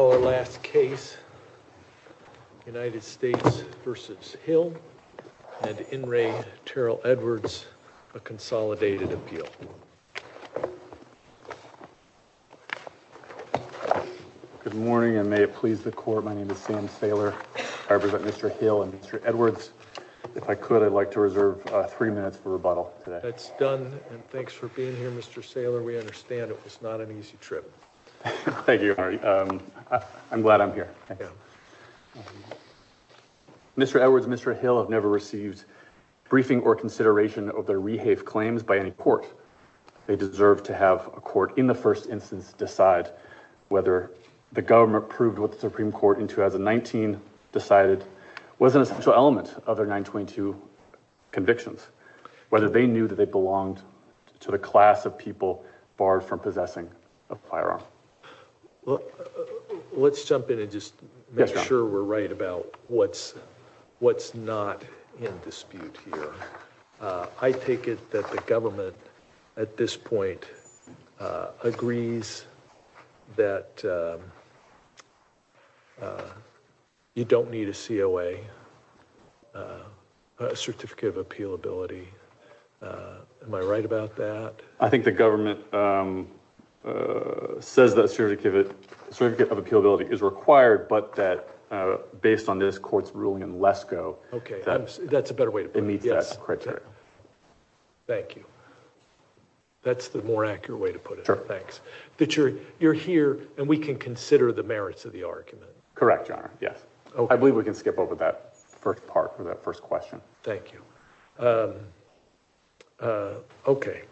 Good morning and may it please the Court, my name is Sam Saylor. I represent Mr. Hill and Mr. Edwards. If I could, I'd like to reserve three minutes for rebuttal today. That's done and thanks for being here, Mr. Saylor. We understand it was not an easy trip. Thank you. I'm glad I'm here. Mr. Edwards, Mr. Hill have never received briefing or consideration of their rehave claims by any court. They deserve to have a court in the first instance decide whether the government proved what the Supreme Court in 2019 decided was an essential element of their 922 convictions. Whether they knew that they belonged to the class of people barred from Let's jump in and just make sure we're right about what's not in dispute here. I take it that the government at this point agrees that you don't need a COA, a certificate of appealability. Am I correct? It says that certificate of appealability is required but that based on this court's ruling in Lesko. Okay, that's a better way to put it. It meets that criteria. Thank you. That's the more accurate way to put it. Sure. Thanks. That you're here and we can consider the merits of the argument. Correct, Your Honor. Yes. I believe we can skip over that first part for that first question. Thank you. Okay,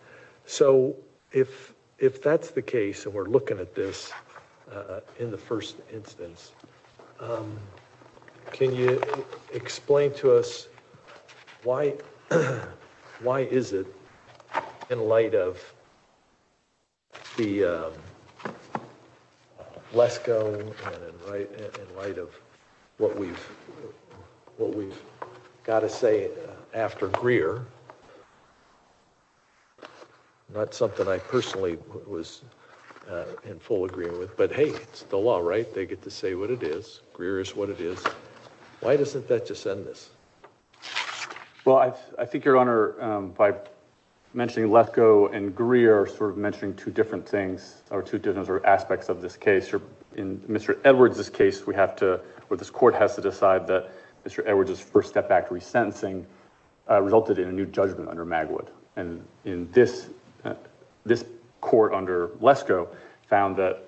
so if that's the case and we're looking at this in the first instance, can you explain to us why is it in light of the Lesko and in light of what we've got to say after Greer? Not something I personally was in full agreement with, but hey, it's the law, right? They get to say what it is. Greer is what it is. Why doesn't that just end this? Well, I think, Your Honor, by mentioning Lesko and Greer, sort of mentioning two different things or two different aspects of this case. In Mr. Edwards' case, we have to, or this court has to decide that Mr. Edwards' first step back to resentencing resulted in a new judgment under Magwood. And in this, this court under Lesko found that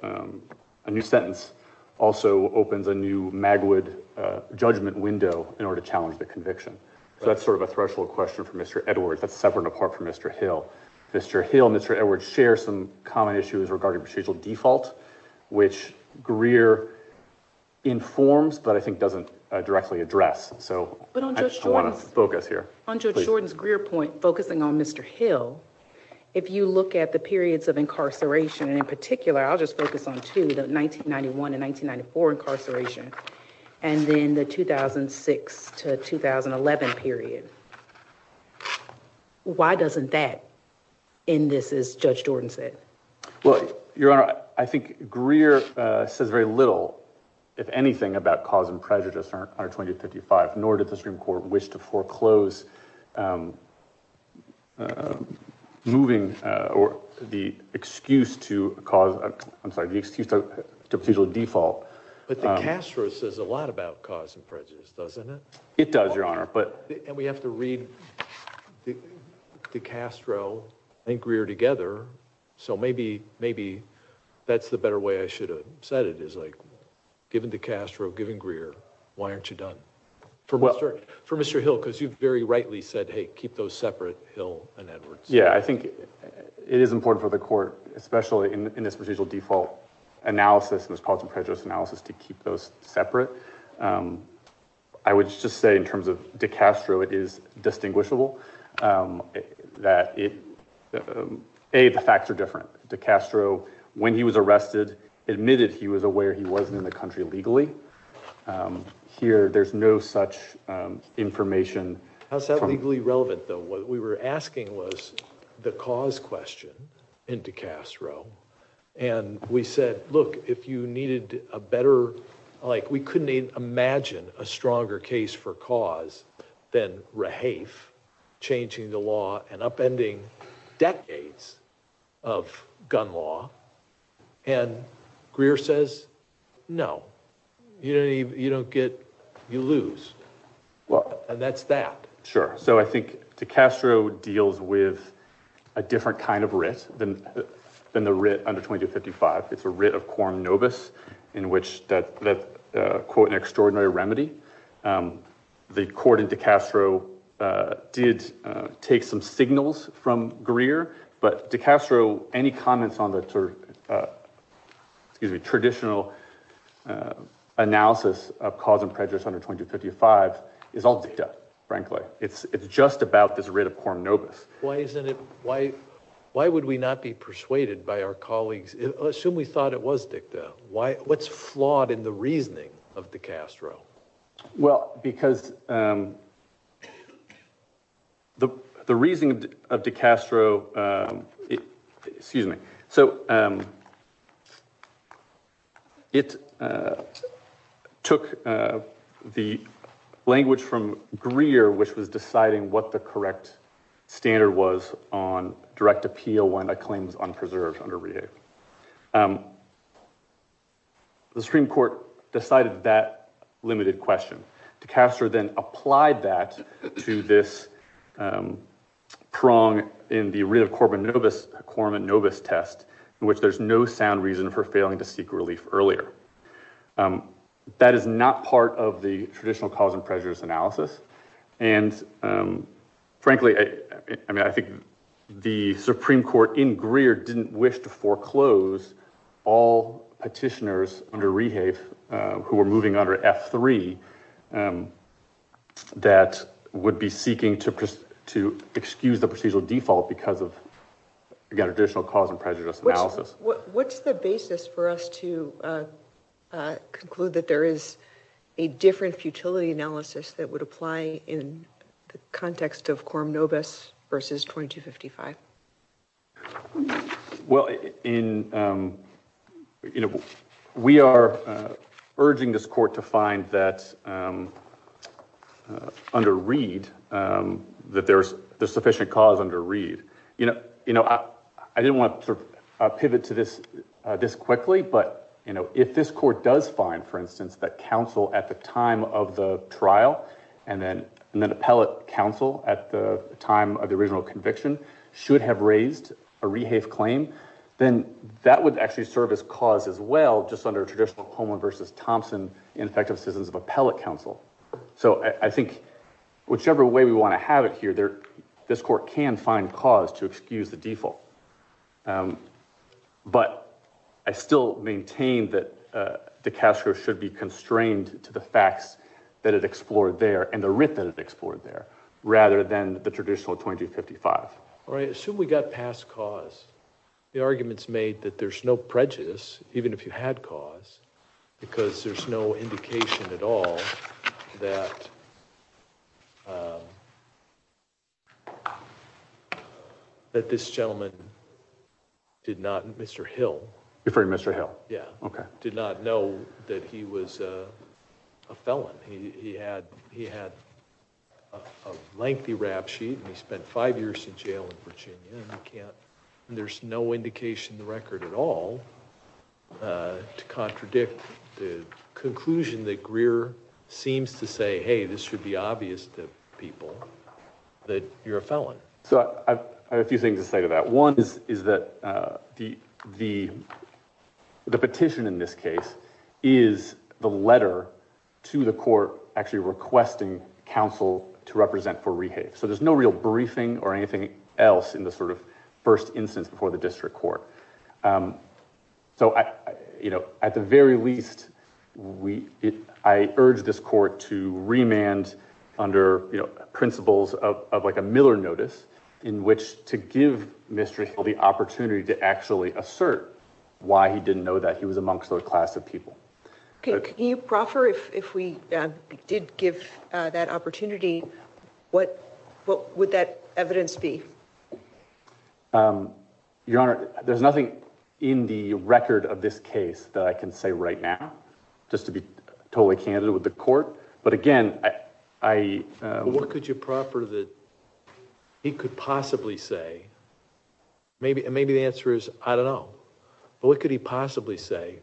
a new sentence also opens a new Magwood judgment window in order to challenge the conviction. So that's sort of a threshold question for Mr. Edwards. That's separate and apart from Mr. Hill. Mr. Hill and Mr. Edwards share some common issues regarding procedural default, which Greer informs, but I think doesn't directly address. So I want to focus here. On Judge Jordan's Greer point, focusing on Mr. Hill, if you look at the periods of incarceration, and in particular, I'll just focus on two, the 1991 and 1994 incarceration, and then the 2006 to 2011 period. Why doesn't that end this, as Judge Jordan said? Well, Your Honor, I think Greer says very little, if anything, about cause and prejudice under 2055, nor did the Supreme Court wish to foreclose moving or the excuse to cause, I'm sorry, the excuse to procedural default. But the Castro says a lot about cause and prejudice, doesn't it? It does, Your Honor, but... And we have to read the Castro and Greer together. So maybe, maybe that's the better way I should have said it, is like, given the Castro, given Greer, why aren't you done? For Mr. Hill, because you've very rightly said, hey, keep those separate, Hill and Edwards. Yeah, I think it is important for the court, especially in this procedural default analysis and this cause and prejudice analysis, to keep those separate. I would just say, in terms of Dick Castro, it is distinguishable that, A, the facts are different. Dick Castro, when he was arrested, admitted he was aware he wasn't in the country legally. Here, there's no such information. How's that legally relevant, though? What we were asking was the cause question in Dick Castro. And we said, look, if you needed a better, like, we couldn't even imagine a stronger case for cause than Rahafe changing the law and upending decades of gun law. And Greer says, no, you don't get, you lose. Well, that's that. Why isn't it? Why? Why would we not be persuaded by our colleagues? Assume we thought it was Dick, though. Why? What's flawed in the reasoning of the Castro? Well, because the reasoning of Dick Castro, excuse me, so it took the language from Greer, which was deciding what the correct standard was on direct appeal when a claim was unpreserved under Rahafe. The Supreme Court decided that limited question. Dick Castro then applied that to this prong in the Rid of Quorum and Novus test, in which there's no sound reason for failing to seek relief earlier. That is not part of the traditional cause and prejudice analysis. And frankly, I mean, I think the Supreme Court in Greer didn't wish to foreclose all petitioners under Rahafe who were moving under F3 that would be seeking to excuse the procedural default because of, again, additional cause and prejudice analysis. What's the basis for us to conclude that there is a different futility analysis that would apply in the context of Quorum Novus versus 2255? Well, we are urging this court to find that under Reed, that there's sufficient cause under Reed. You know, I didn't want to pivot to this quickly, but if this court does find, for instance, that counsel at the time of the trial and then appellate counsel at the time of the original conviction should be able to find that there's sufficient cause under Reed, should have raised a Rahafe claim, then that would actually serve as cause as well, just under traditional Coleman versus Thompson in effective systems of appellate counsel. So I think whichever way we want to have it here, this court can find cause to excuse the default. But I still maintain that Dick Castro should be constrained to the facts that it explored there and the writ that it explored there rather than the traditional 2255. All right. Assume we got past cause. The argument's made that there's no prejudice, even if you had cause, because there's no indication at all that this gentleman did not, Mr. Hill. You're referring to Mr. Hill? Yeah. Okay. Did not know that he was a felon. He had a lengthy rap sheet and he spent five years in jail in Virginia, and there's no indication in the record at all to contradict the conclusion that Greer seems to say, hey, this should be obvious to people that you're a felon. So I have a few things to say to that. One is that the petition in this case is the letter to the court actually requesting counsel to represent for Rahafe. So there's no real briefing or anything else in the sort of first instance before the district court. So, you know, at the very least, I urge this court to remand under principles of like a Miller notice in which to give Mr. Hill the opportunity to actually assert why he didn't know that he was amongst a class of people. Can you proffer if we did give that opportunity, what would that evidence be? Your Honor, there's nothing in the record of this case that I can say right now, just to be totally candid with the court. But again, I... What could you proffer that he could possibly say? Maybe the answer is, I don't know, but what could he possibly say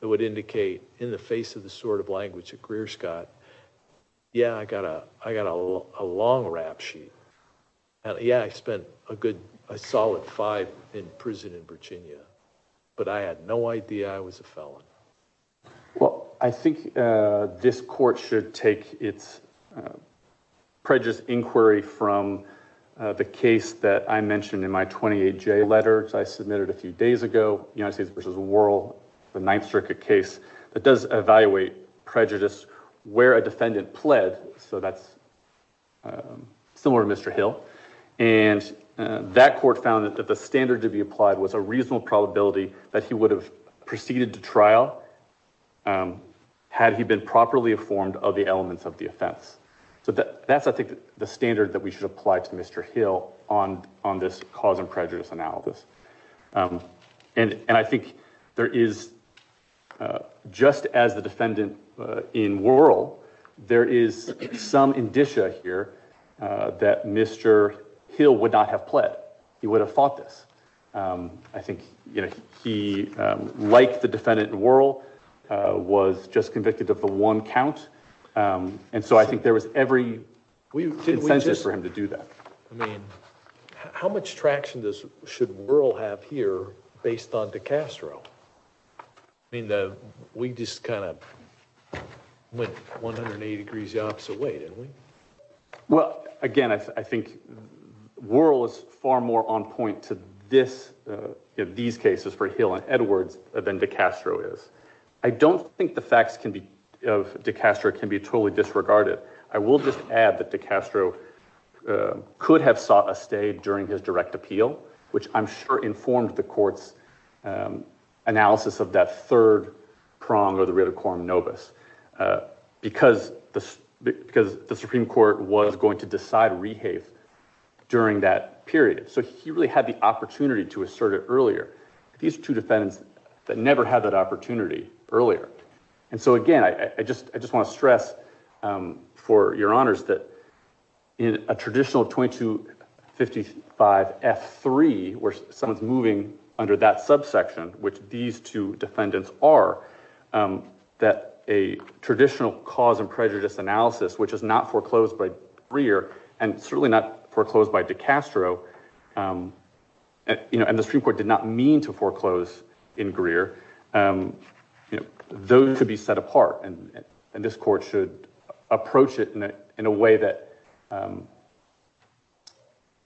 that would indicate in the face of the sort of language that Greer's got, yeah, I got a long rap sheet. Yeah, I spent a good, a solid five in prison in Virginia, but I had no idea I was a felon. Well, I think this court should take its prejudice inquiry from the case that I mentioned in my 28-J letter I submitted a few days ago, United States v. Worrell, the Ninth Circuit case. That does evaluate prejudice where a defendant pled, so that's similar to Mr. Hill. And that court found that the standard to be applied was a reasonable probability that he would have proceeded to trial had he been properly informed of the elements of the offense. So that's, I think, the standard that we should apply to Mr. Hill on this cause and prejudice analysis. And I think there is, just as the defendant in Worrell, there is some indicia here that Mr. Hill would not have pled. He would have fought this. I think, you know, he, like the defendant in Worrell, was just convicted of the one count, and so I think there was every incentive for him to do that. I mean, how much traction should Worrell have here based on DiCastro? I mean, we just kind of went 180 degrees the opposite way, didn't we? Well, again, I think Worrell is far more on point to this, these cases for Hill and Edwards than DiCastro is. I don't think the facts of DiCastro can be totally disregarded. I will just add that DiCastro could have sought a stay during his direct appeal, which I'm sure informed the court's analysis of that third prong, or the Rio de Corum novus, because the Supreme Court was going to decide rehafe during that period. So he really had the opportunity to assert it earlier. These two defendants never had that opportunity earlier. And so, again, I just want to stress for your honors that in a traditional 2255F3, where someone's moving under that subsection, which these two defendants are, that a traditional cause and prejudice analysis, which is not foreclosed by Greer, and certainly not foreclosed by DiCastro, and the Supreme Court did not mean to foreclose in Greer, those could be set apart. And this court should approach it in a way that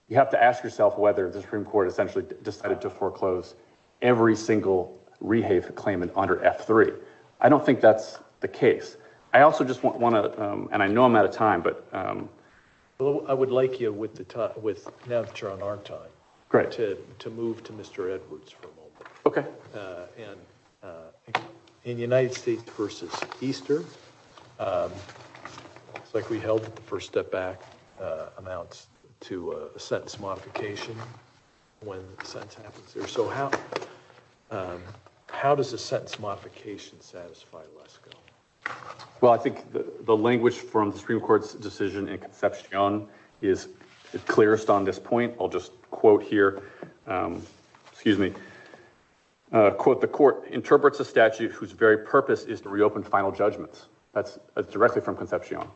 you have to ask yourself whether the Supreme Court essentially decided to foreclose every single rehafe claim under F3. I don't think that's the case. I also just want to, and I know I'm out of time, but... I would like you, now that you're on our time, to move to Mr. Edwards for a moment. Okay. In United States v. Easter, it looks like we held the first step back amounts to a sentence modification when the sentence happens there. So how does a sentence modification satisfy LESCO? Well, I think the language from the Supreme Court's decision in Concepcion is clearest on this point. I'll just quote here. Excuse me. Quote, the court interprets a statute whose very purpose is to reopen final judgments. That's directly from Concepcion.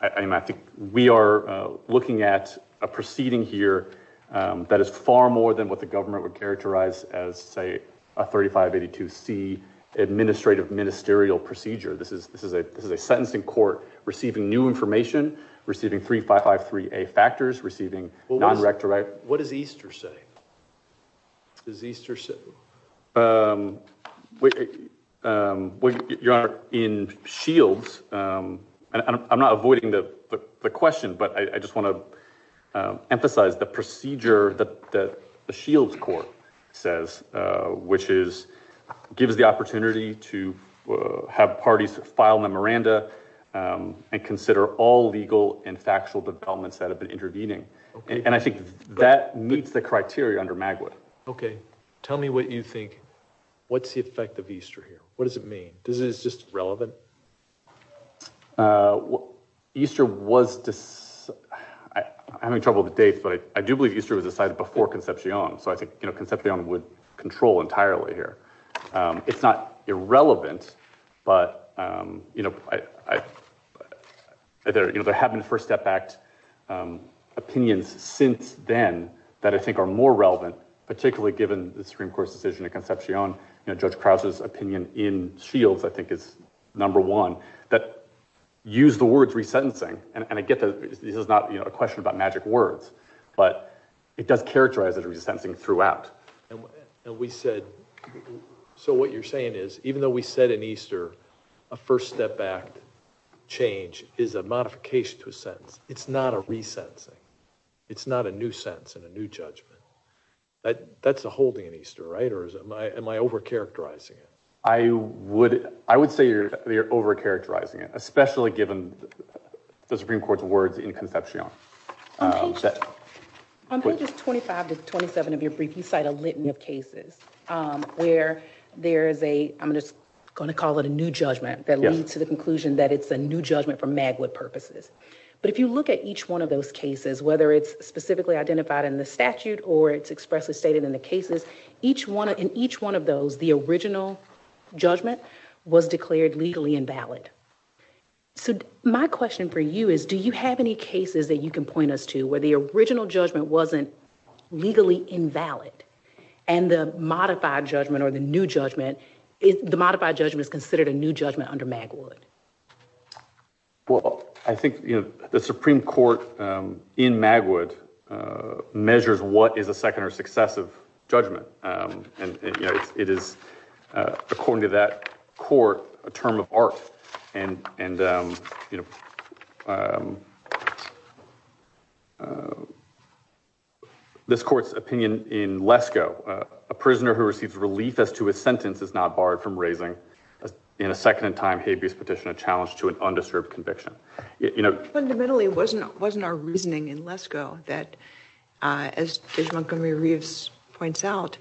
I mean, I think we are looking at a proceeding here that is far more than what the government would characterize as, say, a 3582C administrative ministerial procedure. This is a sentencing court receiving new information, receiving 3553A factors, receiving non-rectorate... Is Easter... Your Honor, in Shields... I'm not avoiding the question, but I just want to emphasize the procedure that the Shields court says, which gives the opportunity to have parties file memoranda and consider all legal and factual developments that have been intervening. And I think that meets the criteria under Magwood. Okay. Tell me what you think. What's the effect of Easter here? What does it mean? Is it just relevant? Easter was... I'm having trouble with the dates, but I do believe Easter was decided before Concepcion. So I think Concepcion would control entirely here. It's not irrelevant, but... There have been First Step Act opinions since then that I think are more relevant, particularly given the Supreme Court's decision in Concepcion. Judge Krause's opinion in Shields, I think, is number one. That used the word resentencing, and I get that this is not a question about magic words, but it does characterize it as resentencing throughout. And we said... So what you're saying is, even though we said in Easter a First Step Act change is a modification to a sentence, it's not a resentencing. It's not a new sentence and a new judgment. That's a holding in Easter, right? Or am I overcharacterizing it? I would say you're overcharacterizing it, especially given the Supreme Court's words in Concepcion. On pages 25 to 27 of your brief, you cite a litany of cases where there is a... I'm just going to call it a new judgment that leads to the conclusion that it's a new judgment for Magwood purposes. But if you look at each one of those cases, whether it's specifically identified in the statute or it's expressly stated in the cases, in each one of those, the original judgment was declared legally invalid. So my question for you is, do you have any cases that you can point us to where the original judgment wasn't legally invalid and the modified judgment or the new judgment, the modified judgment is considered a new judgment under Magwood? Well, I think the Supreme Court in Magwood measures what is a second or successive judgment. It is, according to that court, a term of art. And this court's opinion in Lesko, a prisoner who receives relief as to his sentence is not barred from raising in a second-in-time habeas petition a challenge to an undisturbed conviction. Fundamentally, it wasn't our reasoning in Lesko that, as Judge Montgomery-Reeves points out,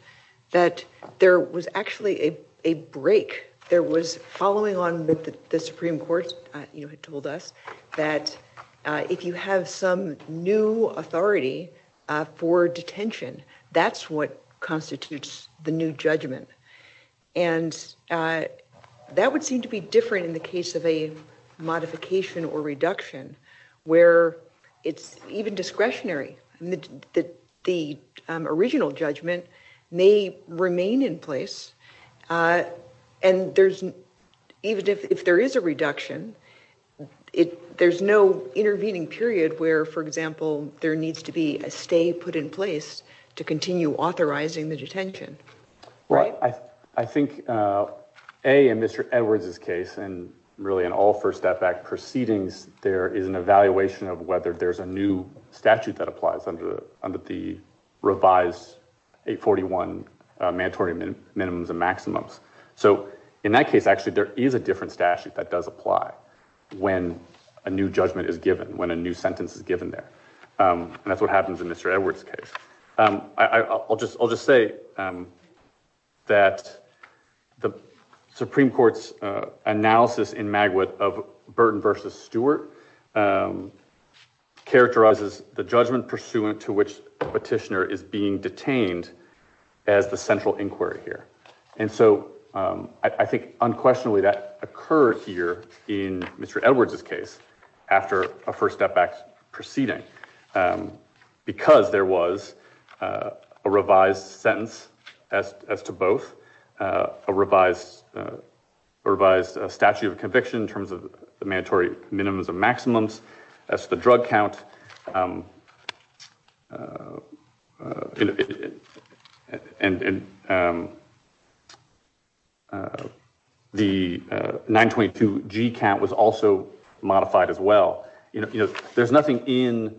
that there was actually a break. There was following on that the Supreme Court had told us that if you have some new authority for detention, that's what constitutes the new judgment. And that would seem to be different in the case of a modification or reduction where it's even discretionary. The original judgment may remain in place and even if there is a reduction, there's no intervening period where, for example, there needs to be a stay put in place to continue authorizing the detention. Well, I think, A, in Mr. Edwards' case and really in all first step back proceedings, there is an evaluation of whether there's a new statute that applies under the revised 841 mandatory minimums and maximums. So in that case, actually, there is a different statute that does apply when a new judgment is given, when a new sentence is given there. And that's what happens in Mr. Edwards' case. I'll just say that the Supreme Court's analysis in Magwood of Burton v. Stewart characterizes the judgment pursuant to which the petitioner is being detained as the central inquiry here. And so I think unquestionably that occurred here in Mr. Edwards' case after a first step back proceeding because there was a revised sentence as to both, a revised statute of conviction in terms of the mandatory minimums and maximums as to the drug count. The 922G count was also modified as well. There's nothing in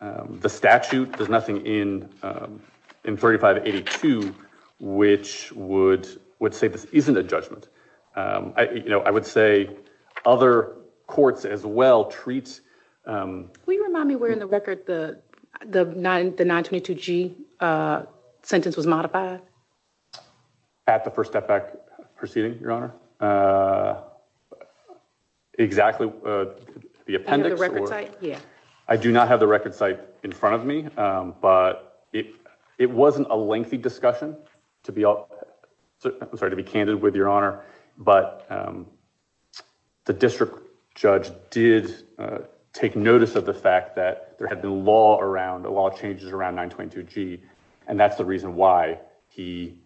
the statute, there's nothing in 3582, which would say this isn't a judgment. I would say other courts as well treat... Will you remind me where in the record the 922G sentence was modified? At the first step back proceeding, Your Honor? Exactly. The appendix? Yeah. I do not have the record site in front of me, but it wasn't a lengthy discussion. I'm sorry to be candid with Your Honor, but the district judge did take notice of the fact that there had been a lot of changes around 922G and that's the reason why he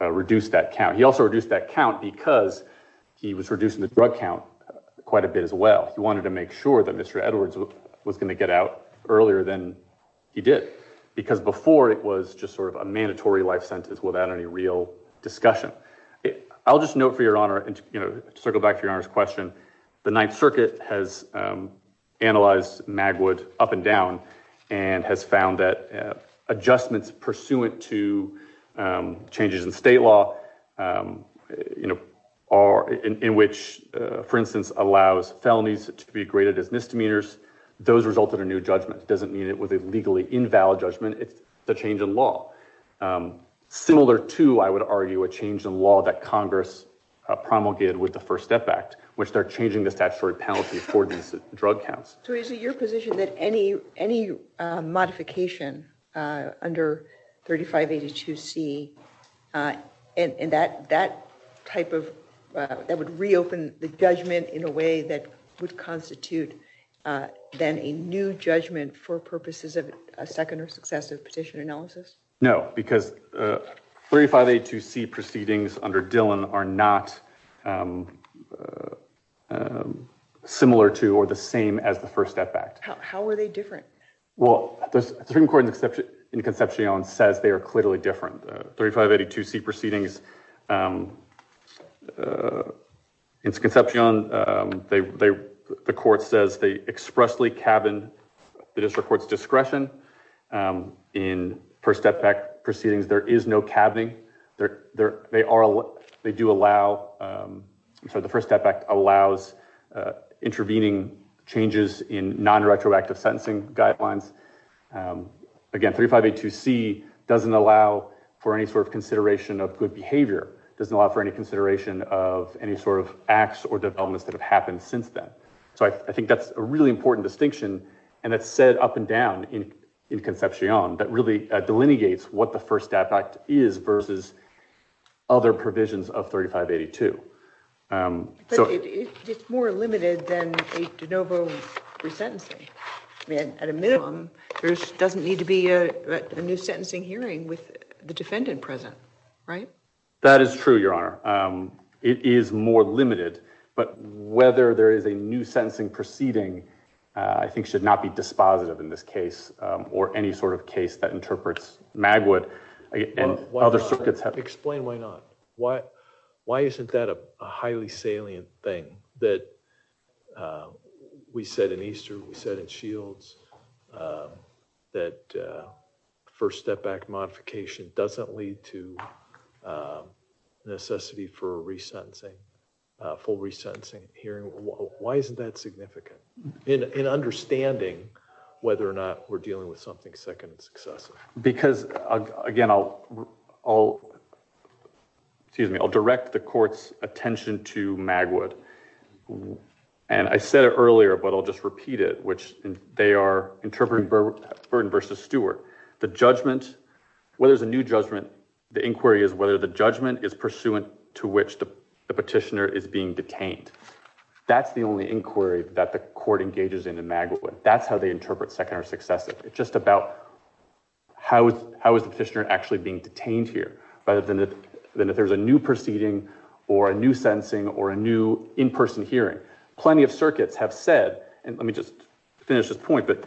reduced that count. He also reduced that count because he was reducing the drug count quite a bit as well. He wanted to make sure that Mr. Edwards was going to get out earlier than he did because before it was just sort of a mandatory life sentence without any real discussion. I'll just note for Your Honor and circle back to Your Honor's question, the Ninth Circuit has analyzed Magwood up and down and has found that adjustments pursuant to changes in state law in which, for instance, allows felonies to be graded as misdemeanors, those result in a new judgment. That doesn't mean it was a legally invalid judgment. It's the change in law. Similar to, I would argue, a change in law that Congress promulgated with the First Step Act, which they're changing the statutory penalty for these drug counts. So is it your position that any modification under 3582C and that would reopen the judgment in a way that would constitute then a new judgment for purposes of a second or successive petition analysis? No, because 3582C proceedings under Dillon are not similar to or the same as the First Step Act. How are they different? Well, the Supreme Court in Concepcion says they are clearly different. 3582C proceedings in Concepcion, the court says they expressly cabin the district court's discretion. In First Step Act proceedings, there is no cabbing. They do allow the First Step Act allows intervening changes in non-retroactive sentencing guidelines. Again, 3582C doesn't allow for any sort of consideration of good behavior, doesn't allow for any consideration of any sort of acts or developments that have happened since then. So I think that's a really important distinction, and it's said up and down in Concepcion that really delineates what the First Step Act is versus other provisions of 3582. But it's more limited than a de novo resentencing. There doesn't need to be a new sentencing hearing with the defendant present, right? That is true, Your Honor. It is more limited, but whether there is a new sentencing proceeding I think should not be dispositive in this case or any sort of case that interprets Magwood and other circuits. Explain why not. Why isn't that a highly salient thing that we said in Easter, we said in Shields that First Step Act modification doesn't lead to necessity for a resentencing, full resentencing hearing? Why isn't that significant in understanding whether or not we're dealing with something second successive? Because, again, I'll direct the Court's attention to Magwood. And I said it earlier, but I'll just repeat it, which they are interpreting Burton versus Stewart. The judgment, whether there's a new judgment, the inquiry is whether the judgment is pursuant to which the petitioner is being detained. That's the only inquiry that the Court engages in in Magwood. That's how they interpret second or successive. It's just about how is the petitioner actually being detained here rather than if there's a new proceeding or a new sentencing or a new in-person hearing. Plenty of circuits have said, and let me just finish this point, but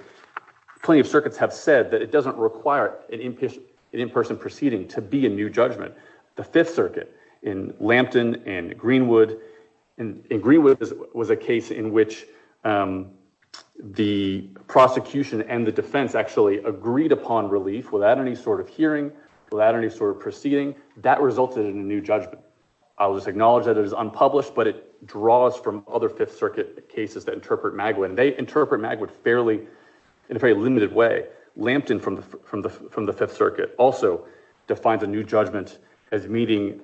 plenty of circuits have said that it doesn't require an in-person proceeding to be a new judgment. The Fifth Circuit in Lampton and Greenwood, and Greenwood was a case in which the prosecution and the defense actually agreed upon relief without any sort of hearing, without any sort of proceeding. That resulted in a new judgment. I'll just acknowledge that it was unpublished, but it draws from other Fifth Circuit cases that interpret Magwood, and they interpret Magwood in a fairly limited way. Lampton from the Fifth Circuit also defines a new judgment as meeting,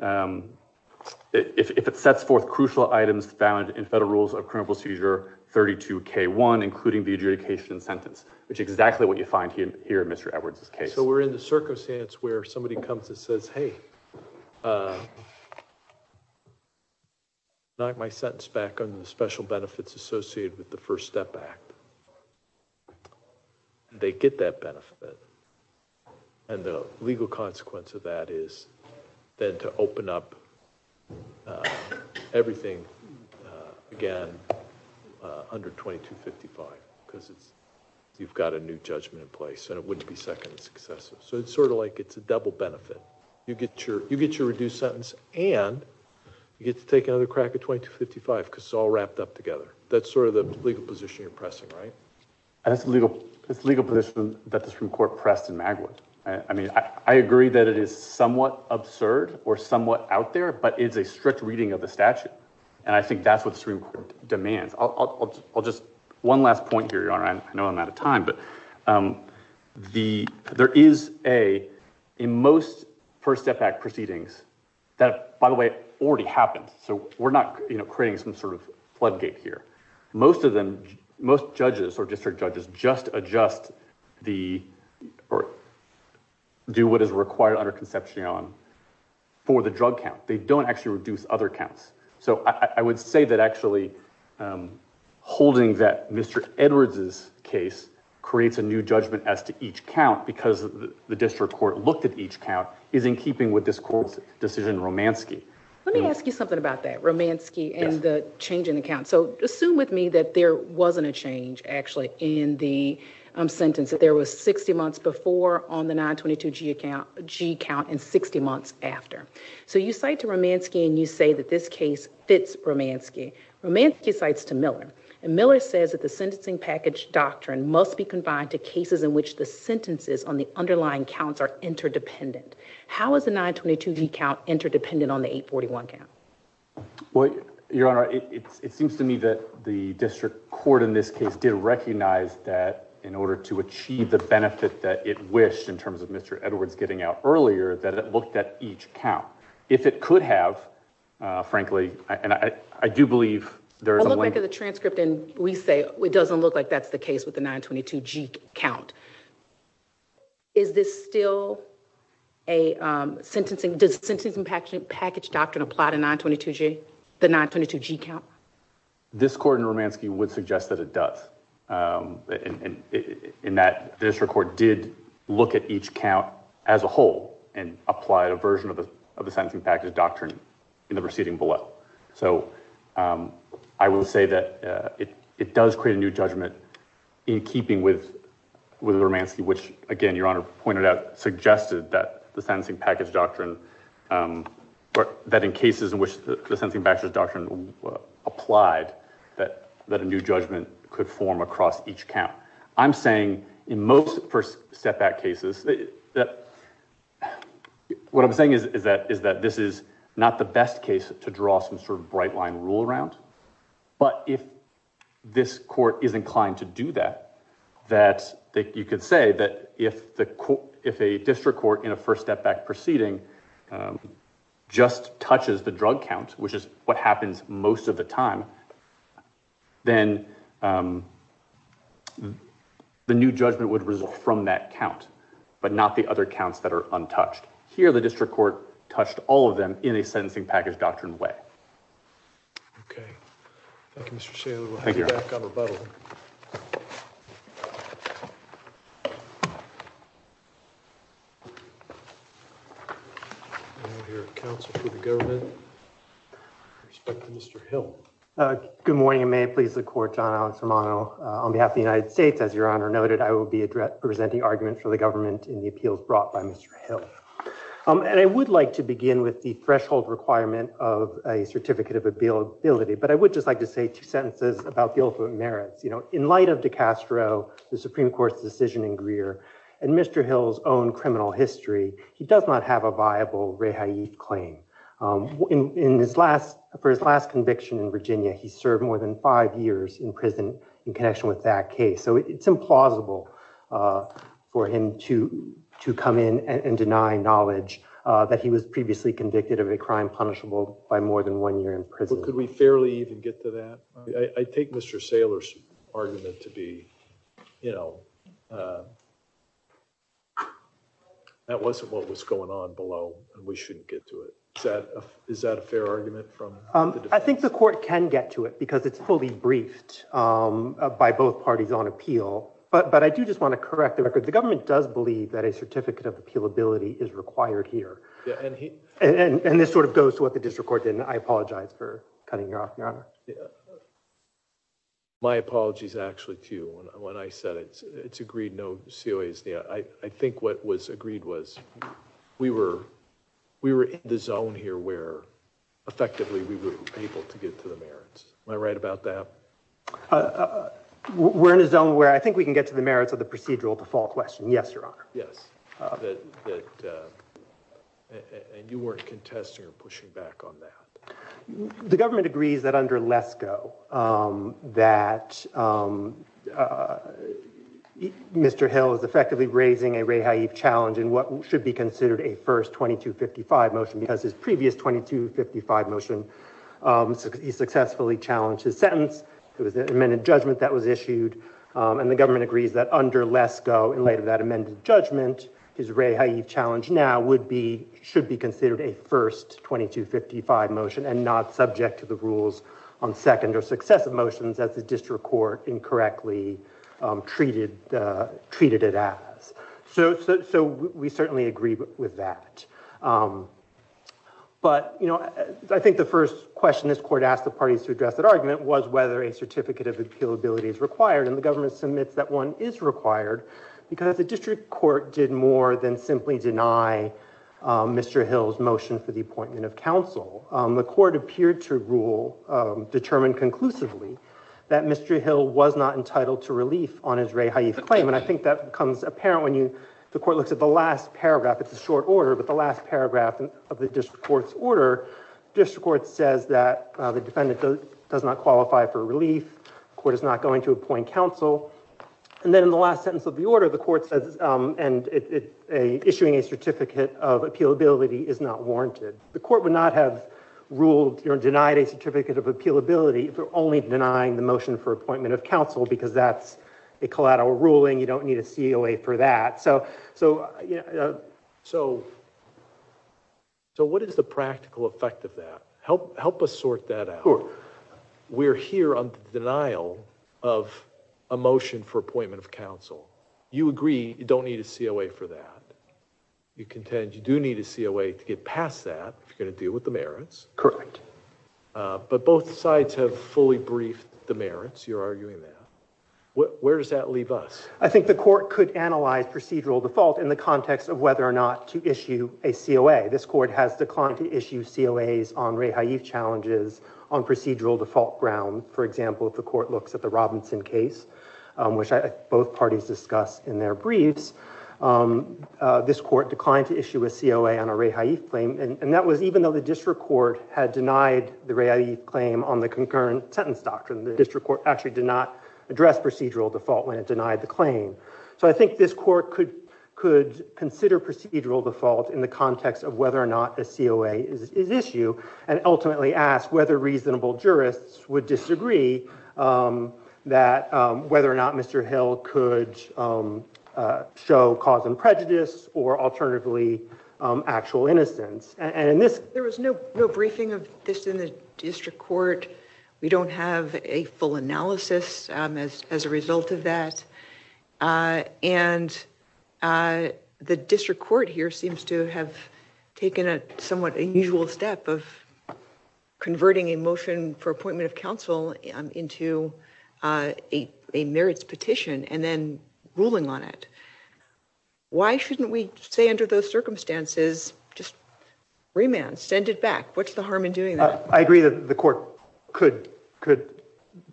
if it sets forth crucial items found in federal rules of criminal seizure 32K1, including the adjudication sentence, which is exactly what you find here in Mr. Edwards' case. Okay, so we're in the circumstance where somebody comes and says, hey, knock my sentence back on the special benefits associated with the First Step Act. They get that benefit, and the legal consequence of that is then to open up everything again under 2255 because you've got a new judgment in place, and it wouldn't be second successive. So it's sort of like it's a double benefit. You get your reduced sentence, and you get to take another crack at 2255 because it's all wrapped up together. That's sort of the legal position you're pressing, right? That's the legal position that the Supreme Court pressed in Magwood. I mean I agree that it is somewhat absurd or somewhat out there, but it's a strict reading of the statute, and I think that's what the Supreme Court demands. I'll just – one last point here, Your Honor. I know I'm out of time, but there is a – in most First Step Act proceedings that, by the way, already happened. So we're not creating some sort of floodgate here. Most of them – most judges or district judges just adjust the – or do what is required under conception for the drug count. They don't actually reduce other counts. So I would say that actually holding that Mr. Edwards' case creates a new judgment as to each count because the district court looked at each count is in keeping with this court's decision in Romanski. Let me ask you something about that, Romanski and the change in the count. So assume with me that there wasn't a change actually in the sentence, that there was 60 months before on the 922G count and 60 months after. So you cite to Romanski and you say that this case fits Romanski. Romanski cites to Miller, and Miller says that the sentencing package doctrine must be combined to cases in which the sentences on the underlying counts are interdependent. How is the 922G count interdependent on the 841 count? Well, Your Honor, it seems to me that the district court in this case did recognize that in order to achieve the benefit that it wished in terms of Mr. Edwards getting out earlier, that it looked at each count. If it could have, frankly, and I do believe there is a link... I look back at the transcript and we say it doesn't look like that's the case with the 922G count. Is this still a sentencing... Does sentencing package doctrine apply to the 922G count? This court in Romanski would suggest that it does in that the district court did look at each count as a whole and applied a version of the sentencing package doctrine in the proceeding below. So I will say that it does create a new judgment in keeping with Romanski, which, again, Your Honor pointed out, suggested that the sentencing package doctrine... that in cases in which the sentencing package doctrine applied that a new judgment could form across each count. Now, I'm saying in most first step back cases... what I'm saying is that this is not the best case to draw some sort of bright line rule around. But if this court is inclined to do that, you could say that if a district court in a first step back proceeding just touches the drug count, which is what happens most of the time, then the new judgment would result from that count but not the other counts that are untouched. Here, the district court touched all of them in a sentencing package doctrine way. Okay. Thank you, Mr. Saylor. We'll have you back on rebuttal. And we'll hear from counsel for the government. With respect to Mr. Hill. Good morning, and may it please the court, John Alex Romano. On behalf of the United States, as Your Honor noted, I will be presenting arguments for the government in the appeals brought by Mr. Hill. And I would like to begin with the threshold requirement of a certificate of ability, but I would just like to say two sentences about the ultimate merits. In light of DeCastro, the Supreme Court's decision in Greer, and Mr. Hill's own criminal history, he does not have a viable rehab claim. For his last conviction in Virginia, he served more than five years in prison in connection with that case. So it's implausible for him to come in and deny knowledge that he was previously convicted of a crime punishable by more than one year in prison. Could we fairly even get to that? I take Mr. Saylor's argument to be, you know, that wasn't what was going on below, and we shouldn't get to it. Is that a fair argument from the defense? I think the court can get to it, because it's fully briefed by both parties on appeal. But I do just want to correct the record. The government does believe that a certificate of appealability is required here. And this sort of goes to what the district court did, and I apologize for cutting you off, Your Honor. My apologies, actually, to you. When I said it's agreed, no COA is denied. I think what was agreed was we were in the zone here where effectively we were able to get to the merits. Am I right about that? We're in a zone where I think we can get to the merits of the procedural default question, yes, Your Honor. Yes. And you weren't contesting or pushing back on that. The government agrees that under Lesko, that Mr. Hill is effectively raising a rehab challenge in what should be considered a first 2255 motion, because his previous 2255 motion, he successfully challenged his sentence. It was an amended judgment that was issued, and the government agrees that under Lesko, in light of that amended judgment, his rehab challenge now should be considered a first 2255 motion and not subject to the rules on second or successive motions as the district court incorrectly treated it as. So we certainly agree with that. But, you know, I think the first question this court asked the parties to address that argument was whether a certificate of appealability is required, and the government submits that one is required, because the district court did more than simply deny Mr. Hill's motion for the appointment of counsel. The court appeared to rule, determined conclusively, that Mr. Hill was not entitled to relief on his rehab claim, and I think that becomes apparent when the court looks at the last paragraph. It's a short order, but the last paragraph of the district court's order, district court says that the defendant does not qualify for relief, the court is not going to appoint counsel, and then in the last sentence of the order, the court says issuing a certificate of appealability is not warranted. The court would not have ruled or denied a certificate of appealability if it were only denying the motion for appointment of counsel, because that's a collateral ruling, you don't need a COA for that. So what is the practical effect of that? Help us sort that out. We're here on the denial of a motion for appointment of counsel. You agree you don't need a COA for that. You contend you do need a COA to get past that, if you're going to deal with the merits. Correct. But both sides have fully briefed the merits, you're arguing that. Where does that leave us? I think the court could analyze procedural default in the context of whether or not to issue a COA. This court has declined to issue COAs on rehab challenges on procedural default ground. For example, if the court looks at the Robinson case, which both parties discussed in their briefs, this court declined to issue a COA on a rehab claim, and that was even though the district court had denied the rehab claim on the concurrent sentence doctrine. The district court actually did not address procedural default when it denied the claim. So I think this court could consider procedural default in the context of whether or not a COA is issued, and ultimately ask whether reasonable jurists would disagree that whether or not Mr. Hill could show cause and prejudice, or alternatively, actual innocence. There was no briefing of this in the district court. We don't have a full analysis as a result of that. The district court here seems to have taken a somewhat unusual step of converting a motion for appointment of counsel into a merits petition and then ruling on it. Why shouldn't we say under those circumstances, just remand, send it back? What's the harm in doing that? I agree that the court could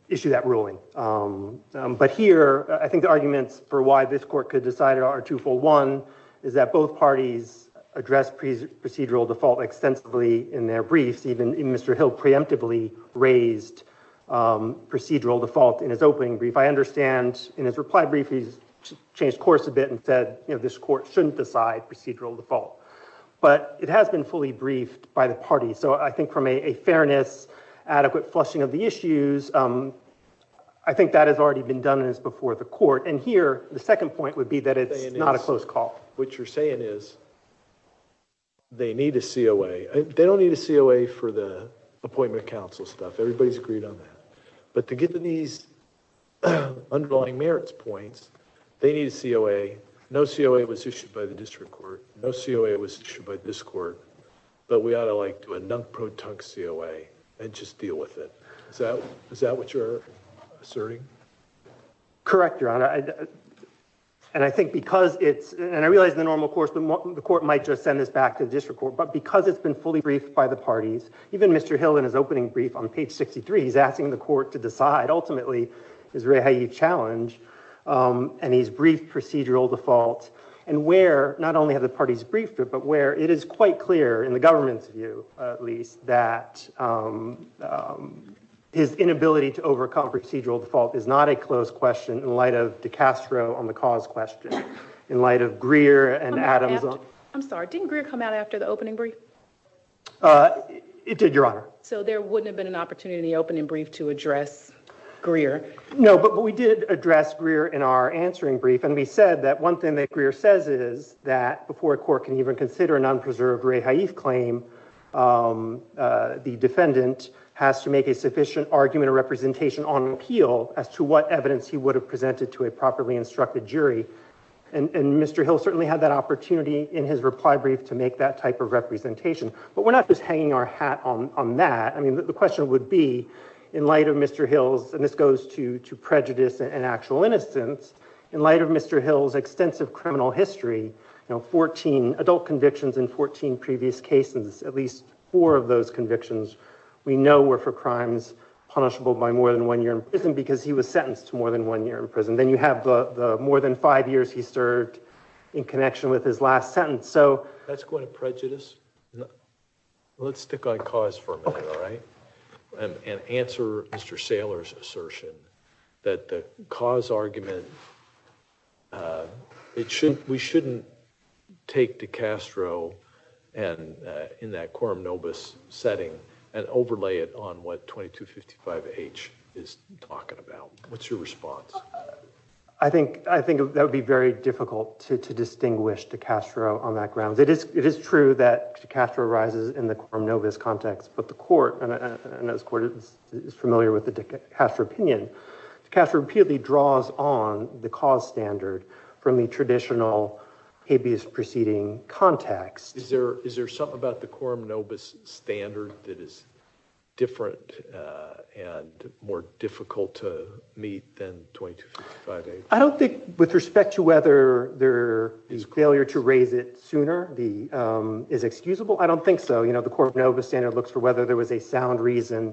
issue that ruling. But here, I think the arguments for why this court could decide it are two-fold. One is that both parties addressed procedural default extensively in their briefs. Even Mr. Hill preemptively raised procedural default in his opening brief. I understand in his reply brief, he's changed course a bit and said this court shouldn't decide procedural default. But it has been fully briefed by the party. I think from a fairness, adequate flushing of the issues, I think that has already been done and is before the court. And here, the second point would be that it's not a close call. What you're saying is they need a COA. They don't need a COA for the appointment of counsel stuff. Everybody's agreed on that. But to get to these underlying merits points, they need a COA. No COA was issued by the district court. No COA was issued by this court. But we ought to like do a nunk-pro-tunk COA and just deal with it. Is that what you're asserting? Correct, Your Honor. And I think because it's, and I realize in the normal course, the court might just send this back to the district court. But because it's been fully briefed by the parties, even Mr. Hill in his opening brief on page 63, he's asking the court to decide, ultimately, is really how you challenge. And he's briefed procedural default. And where, not only have the parties briefed it, but where it is quite clear, in the government's view at least, that his inability to overcome procedural default is not a close question in light of DiCastro on the cause question. In light of Greer and Adams. I'm sorry, didn't Greer come out after the opening brief? It did, Your Honor. So there wouldn't have been an opportunity in the opening brief to address Greer? No, but we did address Greer in our answering brief. And we said that one thing that Greer says is that before a court can even consider a non-preserved rehaif claim, the defendant has to make a sufficient argument or representation on appeal as to what evidence he would have presented to a properly instructed jury. And Mr. Hill certainly had that opportunity in his reply brief to make that type of representation. But we're not just hanging our hat on that. I mean, the question would be, in light of Mr. Hill's, and this goes to prejudice and actual innocence, in light of Mr. Hill's extensive criminal history, you know, 14 adult convictions in 14 previous cases, at least four of those convictions, we know were for crimes punishable by more than one year in prison because he was sentenced to more than one year in prison. Then you have the more than five years he served in connection with his last sentence. That's going to prejudice? Let's stick on cause for a minute, all right? And answer Mr. Saylor's assertion that the cause argument, we shouldn't take DiCastro in that quorum nobis setting and overlay it on what 2255H is talking about. What's your response? I think that would be very difficult to distinguish DiCastro on that ground. It is true that DiCastro arises in the quorum nobis context, but the court, and I know this court is familiar with the DiCastro opinion, DiCastro repeatedly draws on the cause standard from the traditional habeas proceeding context. Is there something about the quorum nobis standard that is different and more difficult to meet than 2255H? I don't think with respect to whether the failure to raise it sooner is excusable. I don't think so. The quorum nobis standard looks for whether there was a sound reason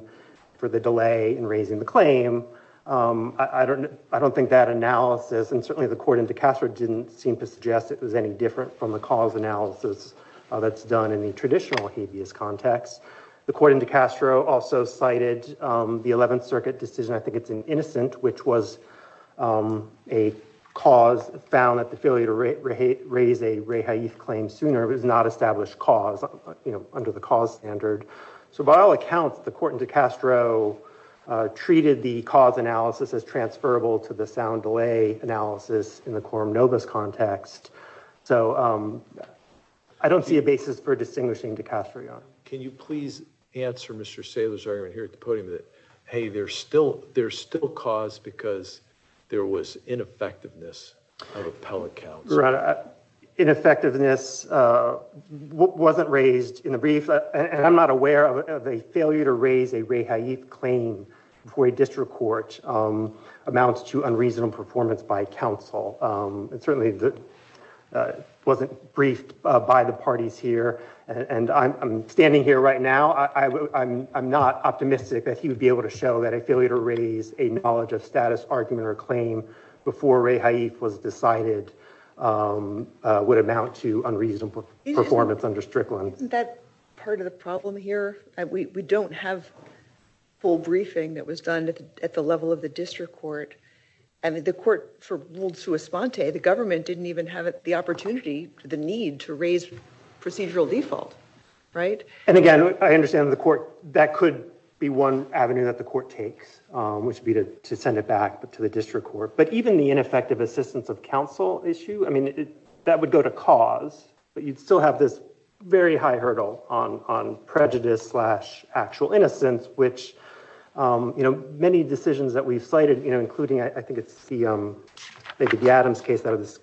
for the delay in raising the claim. I don't think that analysis, and certainly the court in DiCastro didn't seem to suggest it was any different from the cause analysis that's done in the traditional habeas context. The court in DiCastro also cited the 11th Circuit decision, I think it's in Innocent, which was a cause found at the failure to raise a rehaeth claim sooner. It was not established cause under the cause standard. So by all accounts, the court in DiCastro treated the cause analysis as transferable to the sound delay analysis in the quorum nobis context. So I don't see a basis for distinguishing DiCastro. Can you please answer Mr. Saylor's argument here at the podium that, hey, there's still cause because there was ineffectiveness of appellate counsel? Ineffectiveness wasn't raised in the brief, and I'm not aware of a failure to raise a rehaeth claim before a district court amounts to unreasonable performance by counsel. It certainly wasn't briefed by the parties here. And I'm standing here right now, I'm not optimistic that he would be able to show that a failure to raise a knowledge of status, argument, or claim before rehaeth was decided would amount to unreasonable performance under Strickland. Isn't that part of the problem here? We don't have full briefing that was done at the level of the district court. And the court for ruled sua sponte, the government didn't even have the opportunity, the need to raise procedural default, right? And again, I understand the court, that could be one avenue that the court takes, which would be to send it back to the district court. But even the ineffective assistance of counsel issue, I mean, that would go to cause, but you'd still have this very high hurdle on prejudice slash actual innocence, which many decisions that we've cited, including, I think it's the, maybe the Adams case out of this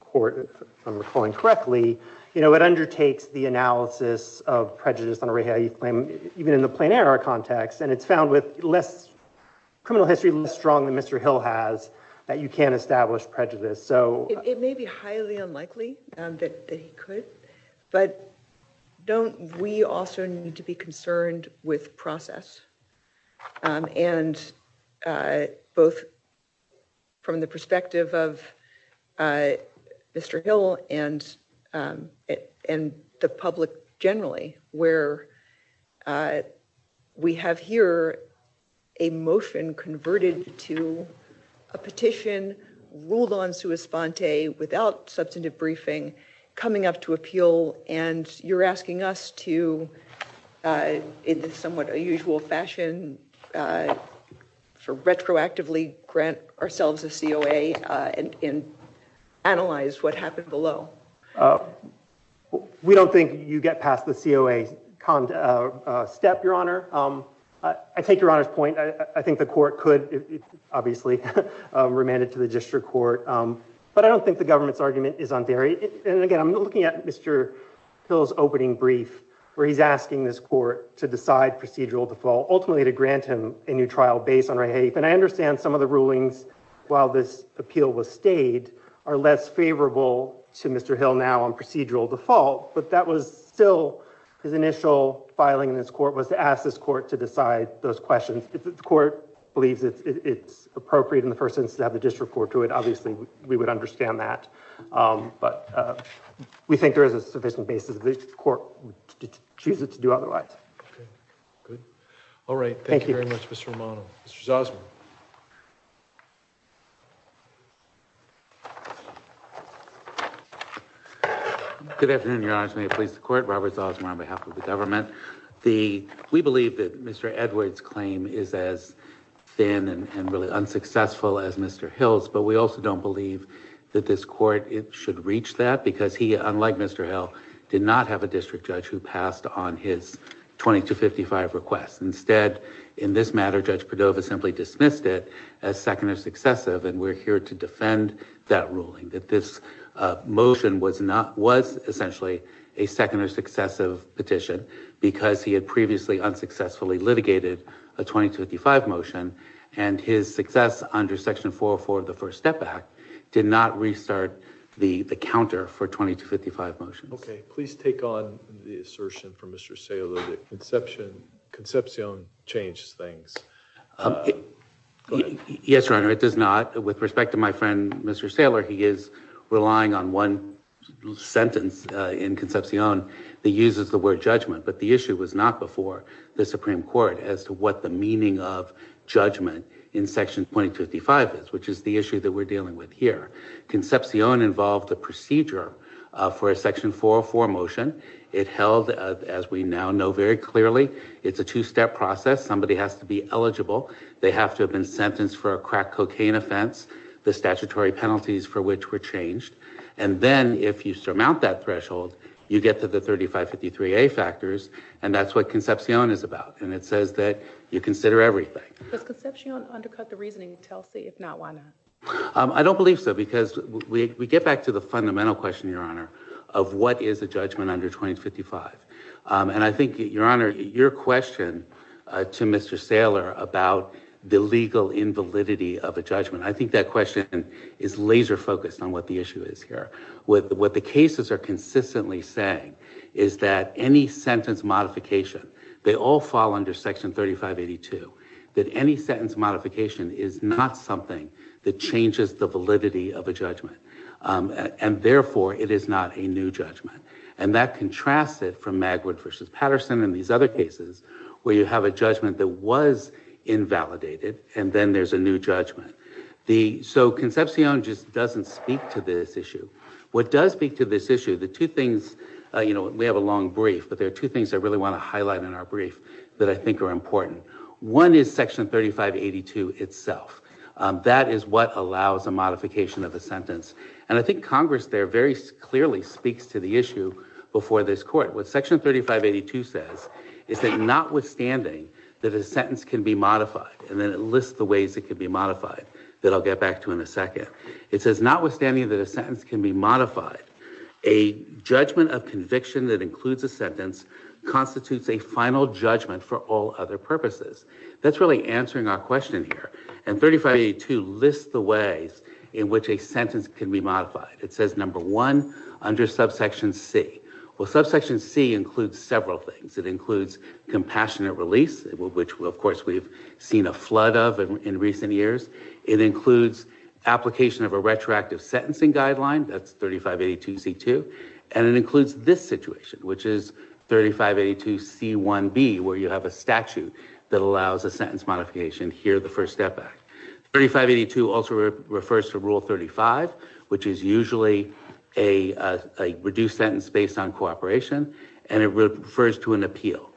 court, if I'm recalling correctly, it undertakes the analysis of prejudice on a rehaeth claim, even in the plain error context. And it's found with less criminal history, less strong than Mr. Hill has, that you can establish prejudice. It may be highly unlikely that he could, but don't we also need to be concerned with process and both from the perspective of Mr. Hill and the public generally, where we have here a motion converted to a petition, ruled on sua sponte, without substantive briefing, coming up to appeal. And you're asking us to, in the somewhat unusual fashion, for retroactively grant ourselves a COA and analyze what happened below. We don't think you get past the COA step, Your Honor. I take Your Honor's point. I think the court could obviously remand it to the district court, but I don't think the government's argument is on theory. And again, I'm looking at Mr. Hill's opening brief where he's asking this court to decide procedural default, ultimately to grant him a new trial based on rehaeth. And I understand some of the rulings, while this appeal was stayed, are less favorable to Mr. Hill now on procedural default, but that was still his initial filing in this court was to ask this court to decide those questions. If the court believes it's appropriate in the first instance to have the district court do it, obviously we would understand that. But we think there is a sufficient basis that the court would choose it to do otherwise. Okay, good. All right, thank you very much, Mr. Romano. Mr. Zausman. Good afternoon, Your Honor. May it please the court? Robert Zausman on behalf of the government. We believe that Mr. Edwards' claim is as thin and really unsuccessful as Mr. Hill's, but we also don't believe that this court should reach that because he, unlike Mr. Hill, did not have a district judge who passed on his 2255 request. Instead, in this matter, Judge Padova simply dismissed it as second or successive, and we're here to defend that ruling, that this motion was essentially a second or successive petition because he had previously unsuccessfully litigated a 2255 motion, and his success under Section 404 of the First Step Act did not restart the counter for 2255 motions. Okay, please take on the assertion from Mr. Saylo that Concepcion changed things. Go ahead. Yes, Your Honor, it does not. With respect to my friend, Mr. Saylo, he is relying on one sentence in Concepcion that uses the word judgment, but the issue was not before the Supreme Court as to what the meaning of judgment in Section 2255 is, which is the issue that we're dealing with here. Concepcion involved a procedure for a Section 404 motion. It held, as we now know very clearly, it's a two-step process. Somebody has to be eligible. They have to have been sentenced for a crack cocaine offense, the statutory penalties for which were changed, and then if you surmount that threshold, you get to the 3553A factors, and that's what Concepcion is about, and it says that you consider everything. Does Concepcion undercut the reasoning, Telsey? I don't believe so because we get back to the fundamental question, Your Honor, of what is a judgment under 2055, and I think, Your Honor, your question to Mr. Saylo about the legal invalidity of a judgment, I think that question is laser-focused on what the issue is here. What the cases are consistently saying is that any sentence modification, they all fall under Section 3582, that any sentence modification is not something that changes the validity of a judgment, and therefore, it is not a new judgment, and that contrasts it from Magwood v. Patterson and these other cases where you have a judgment that was invalidated, and then there's a new judgment. So Concepcion just doesn't speak to this issue. What does speak to this issue, the two things, you know, we have a long brief, but there are two things I really want to highlight in our brief that I think are important. One is Section 3582 itself. That is what allows a modification of a sentence, and I think Congress there very clearly speaks to the issue before this Court. What Section 3582 says is that notwithstanding that a sentence can be modified, and then it lists the ways it can be modified that I'll get back to in a second. It says, notwithstanding that a sentence can be modified, a judgment of conviction that includes a sentence constitutes a final judgment for all other purposes. That's really answering our question here, and 3582 lists the ways in which a sentence can be modified. It says, number one, under Subsection C. Well, Subsection C includes several things. It includes compassionate release, which, of course, we've seen a flood of in recent years. It includes application of a retroactive sentencing guideline. That's 3582C2. And it includes this situation, which is 3582C1B, where you have a statute that allows a sentence modification. Here, the first step back. 3582 also refers to Rule 35, which is usually a reduced sentence based on cooperation, and it refers to an appeal.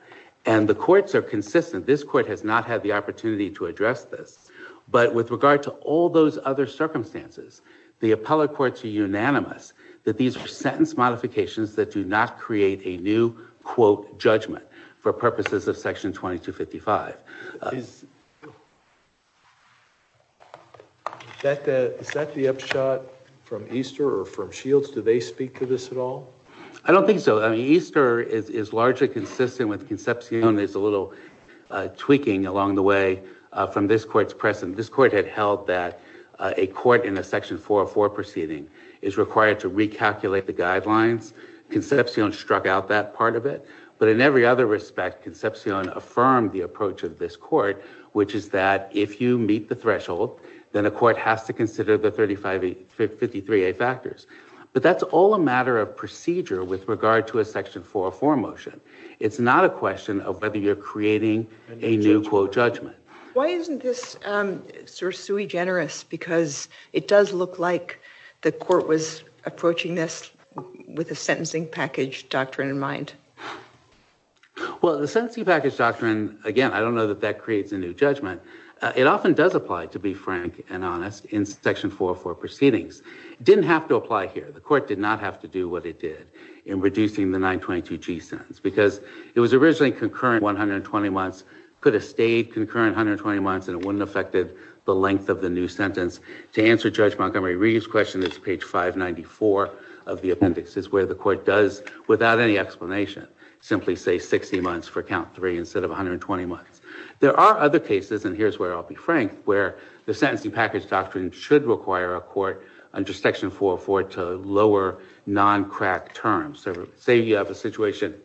And the courts are consistent. This Court has not had the opportunity to address this. But with regard to all those other circumstances, the appellate courts are unanimous that these are sentence modifications that do not create a new, quote, judgment for purposes of Section 2255. Is... Is that the upshot from Easter or from Shields? Do they speak to this at all? I don't think so. I mean, Easter is largely consistent with Concepcion. There's a little tweaking along the way from this Court's precedent. This Court had held that a court in a Section 404 proceeding is required to recalculate the guidelines. Concepcion struck out that part of it. But in every other respect, Concepcion affirmed the approach of this Court, which is that if you meet the threshold, then a court has to consider the 3583A factors. But that's all a matter of procedure with regard to a Section 404 motion. It's not a question of whether you're creating a new, quote, judgment. Why isn't this sort of sui generis? Because it does look like the Court was approaching this with a sentencing package doctrine in mind. Well, the sentencing package doctrine, again, I don't know that that creates a new judgment. It often does apply, to be frank and honest, in Section 404 proceedings. It didn't have to apply here. The Court did not have to do what it did in reducing the 922G sentence because it was originally concurrent 120 months, could have stayed concurrent 120 months, and it wouldn't have affected the length of the new sentence. To answer Judge Montgomery Reeve's question, it's page 594 of the appendix. This is where the Court does, without any explanation, simply say 60 months for count 3 instead of 120 months. There are other cases, and here's where I'll be frank, where the sentencing package doctrine should require a court under Section 404 to lower non-crack terms. Say you have a situation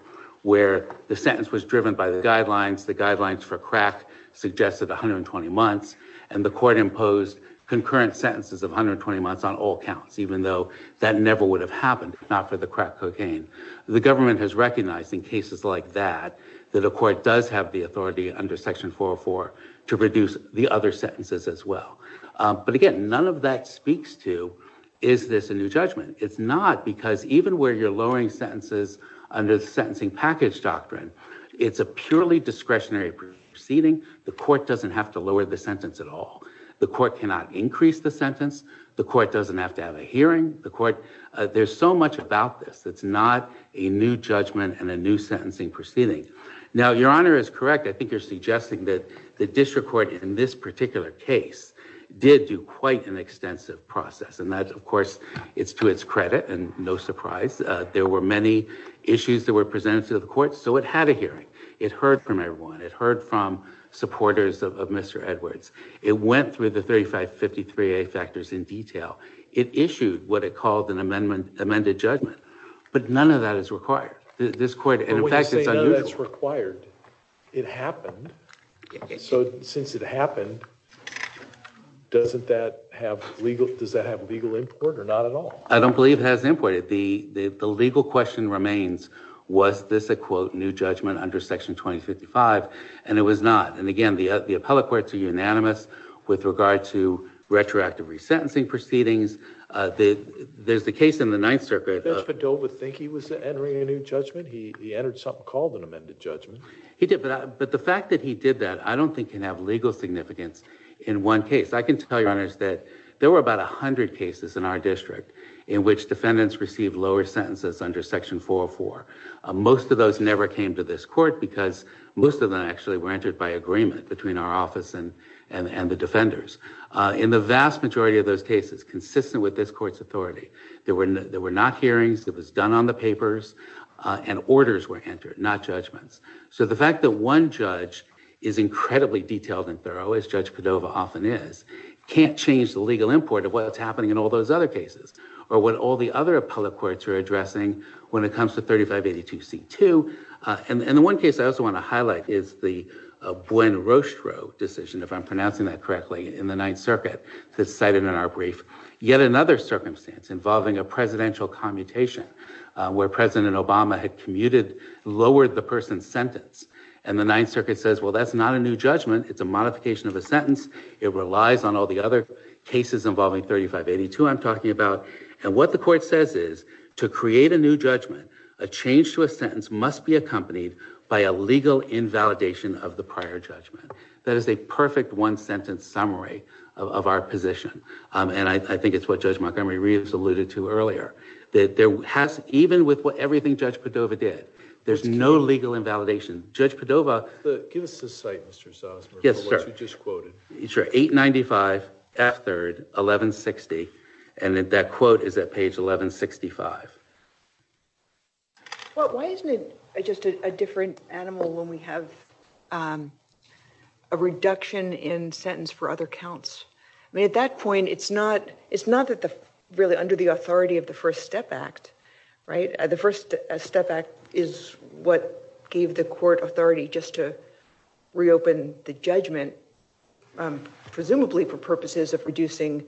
where the sentence was driven by the guidelines, the guidelines for crack suggested 120 months, and the Court imposed concurrent sentences of 120 months on all counts, even though that never would have happened if not for the crack cocaine. The government has recognized in cases like that that a court does have the authority under Section 404 to reduce the other sentences as well. But again, none of that speaks to, is this a new judgment? It's not because even where you're lowering sentences under the sentencing package doctrine, it's a purely discretionary proceeding. The Court doesn't have to lower the sentence at all. The Court cannot increase the sentence. The Court doesn't have to have a hearing. The Court, there's so much about this. It's not a new judgment and a new sentencing proceeding. Now, Your Honor is correct. I think you're suggesting that the District Court in this particular case did do quite an extensive process, and that, of course, it's to its credit and no surprise. There were many issues that were presented to the Court, so it had a hearing. It heard from everyone. It heard from supporters of Mr. Edwards. It went through the 3553A factors in detail. It issued what it called an amended judgment, but none of that is required. This Court, and in fact, it's unusual. But when you say none of that's required, it happened. So since it happened, doesn't that have legal, does that have legal import or not at all? I don't believe it has import. The legal question remains, was this a, quote, new judgment under Section 2055? And it was not. And again, the appellate courts are unanimous with regard to retroactive resentencing proceedings. There's the case in the Ninth Circuit. Judge Padova think he was entering a new judgment? He entered something called an amended judgment. He did, but the fact that he did that, I don't think can have legal significance in one case. I can tell you, Your Honors, that there were about 100 cases in our district in which defendants received lower sentences under Section 404. Most of those never came to this court because most of them actually were entered by agreement between our office and the defenders. In the vast majority of those cases, consistent with this court's authority, there were not hearings, it was done on the papers, and orders were entered, not judgments. So the fact that one judge is incredibly detailed and thorough, as Judge Padova often is, can't change the legal import of what's happening in all those other cases or what all the other appellate courts are addressing when it comes to 3582C2. And the one case I also want to highlight is the Buen Rostro decision, if I'm pronouncing that correctly, in the Ninth Circuit that's cited in our brief. Yet another circumstance involving a presidential commutation where President Obama had commuted, lowered the person's sentence. And the Ninth Circuit says, well, that's not a new judgment, it's a modification of a sentence. It relies on all the other cases involving 3582 I'm talking about. And what the court says is, to create a new judgment, a change to a sentence must be accompanied by a legal invalidation of the prior judgment. That is a perfect one-sentence summary of our position. And I think it's what Judge Montgomery Reeves alluded to earlier, that even with everything Judge Padova did, there's no legal invalidation. Judge Padova... Give us the site, Mr. Zosmer, for what you just quoted. Sure. 895 F3rd, 1160. And that quote is at page 1165. Well, why isn't it just a different animal when we have a reduction in sentence for other counts? I mean, at that point, it's not really under the authority of the First Step Act, right? The First Step Act is what gave the court authority just to reopen the judgment, presumably for purposes of reducing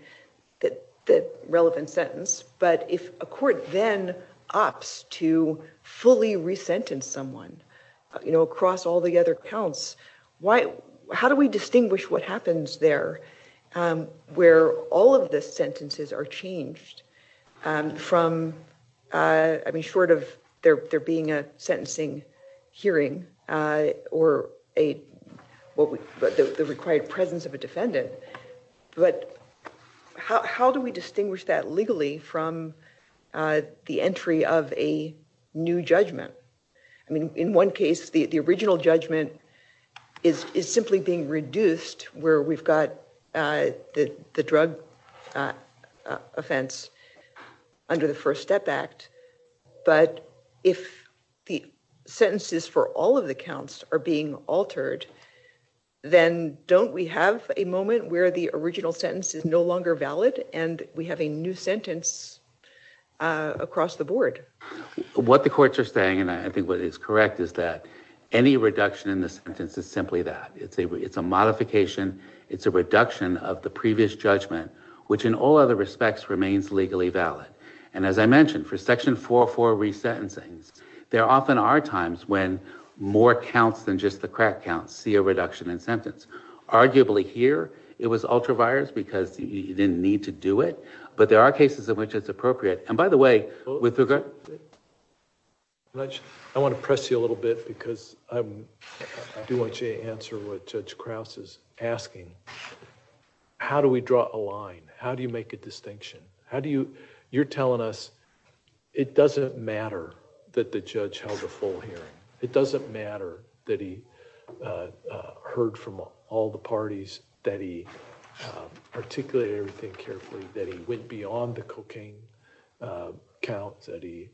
the relevant sentence. But if a court then opts to fully re-sentence someone, you know, across all the other counts, how do we distinguish what happens there where all of the sentences are changed from, I mean, short of there being a sentencing hearing or the required presence of a defendant? But how do we distinguish that legally from the entry of a new judgment? I mean, in one case, the original judgment is simply being reduced where we've got the drug offense under the First Step Act. But if the sentences for all of the counts are being altered, then don't we have a moment where the original sentence is no longer valid and we have a new sentence across the board? What the courts are saying, and I think what is correct, is that any reduction in the sentence is simply that. It's a modification. It's a reduction of the previous judgment, which in all other respects remains legally valid. And as I mentioned, for Section 404 re-sentencing, there often are times when more counts than just the crack counts see a reduction in sentence. Arguably here, it was ultra-virus because you didn't need to do it, but there are cases in which it's appropriate. And by the way, with regard... Judge, I want to press you a little bit because I do want you to answer what Judge Krause is asking. How do we draw a line? How do you make a distinction? You're telling us it doesn't matter that the judge held a full hearing. It doesn't matter that he heard from all the parties, that he articulated everything carefully, that he went beyond the cocaine count, that he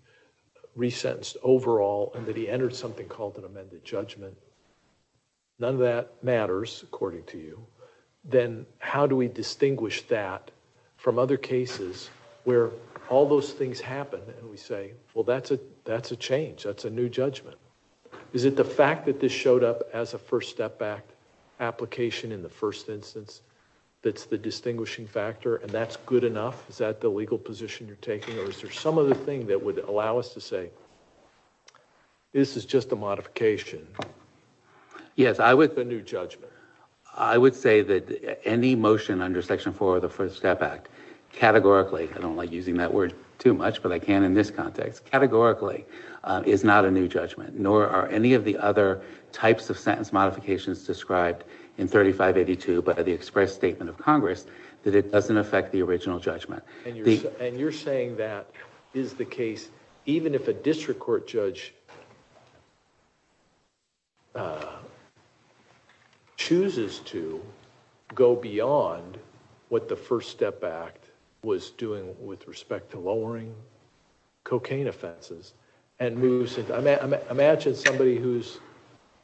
re-sentenced overall, and that he entered something called an amended judgment. None of that matters, according to you. Then how do we distinguish that from other cases where all those things happen and we say, well, that's a change, that's a new judgment? Is it the fact that this showed up as a First Step Act application in the first instance that's the distinguishing factor and that's good enough? Is that the legal position you're taking? Or is there some other thing that would allow us to say, this is just a modification? Yes, I would... A new judgment. I would say that any motion under Section 4 of the First Step Act categorically, I don't like using that word too much, but I can in this context, categorically is not a new judgment, nor are any of the other types of sentence modifications described in 3582 by the express statement of Congress that it doesn't affect the original judgment. And you're saying that is the case even if a district court judge chooses to go beyond what the First Step Act was doing with respect to lowering cocaine offenses and moves it. Imagine somebody who's,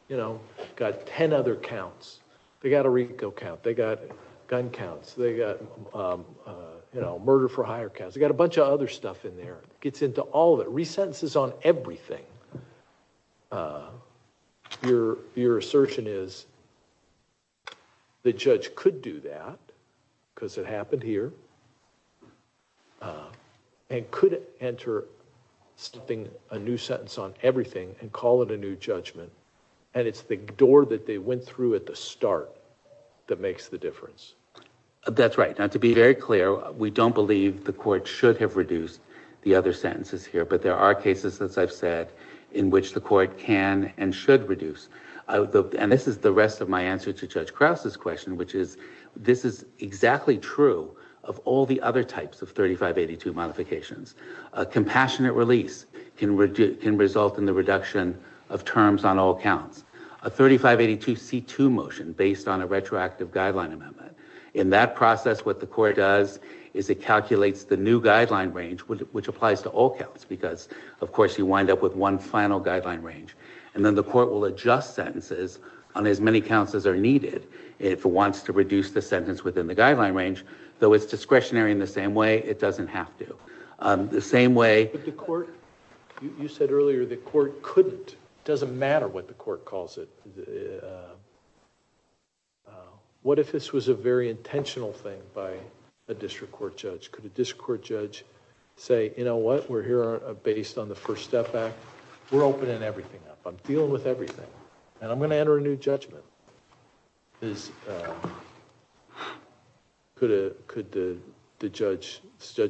you know, got 10 other counts. They got a Rico count, they got gun counts, they got, you know, murder for hire counts. They got a bunch of other stuff in there. Gets into all of it. Resentences on everything. Your assertion is the judge could do that because it happened here and could enter a new sentence on everything and call it a new judgment. And it's the door that they went through at the start that makes the difference. That's right. Now, to be very clear, we don't believe the court should have reduced the other sentences here, but there are cases, as I've said, in which the court can and should reduce. And this is the rest of my answer to Judge Krause's question, which is this is exactly true of all the other types of 3582 modifications. A compassionate release can result in the reduction of terms on all counts. A 3582 C2 motion based on a retroactive guideline amendment. In that process, what the court does is it calculates the new guideline range, which applies to all counts, because, of course, you wind up with one final guideline range. And then the court will adjust sentences on as many counts as are needed if it wants to reduce the sentence within the guideline range. Though it's discretionary in the same way, it doesn't have to. The same way... But the court... You said earlier the court couldn't. It doesn't matter what the court calls it. What if this was a very intentional thing by a district court judge? Could a district court judge say, you know what, we're here based on the First Step Act. We're opening everything up. I'm dealing with everything. And I'm gonna enter a new judgment. Could the judge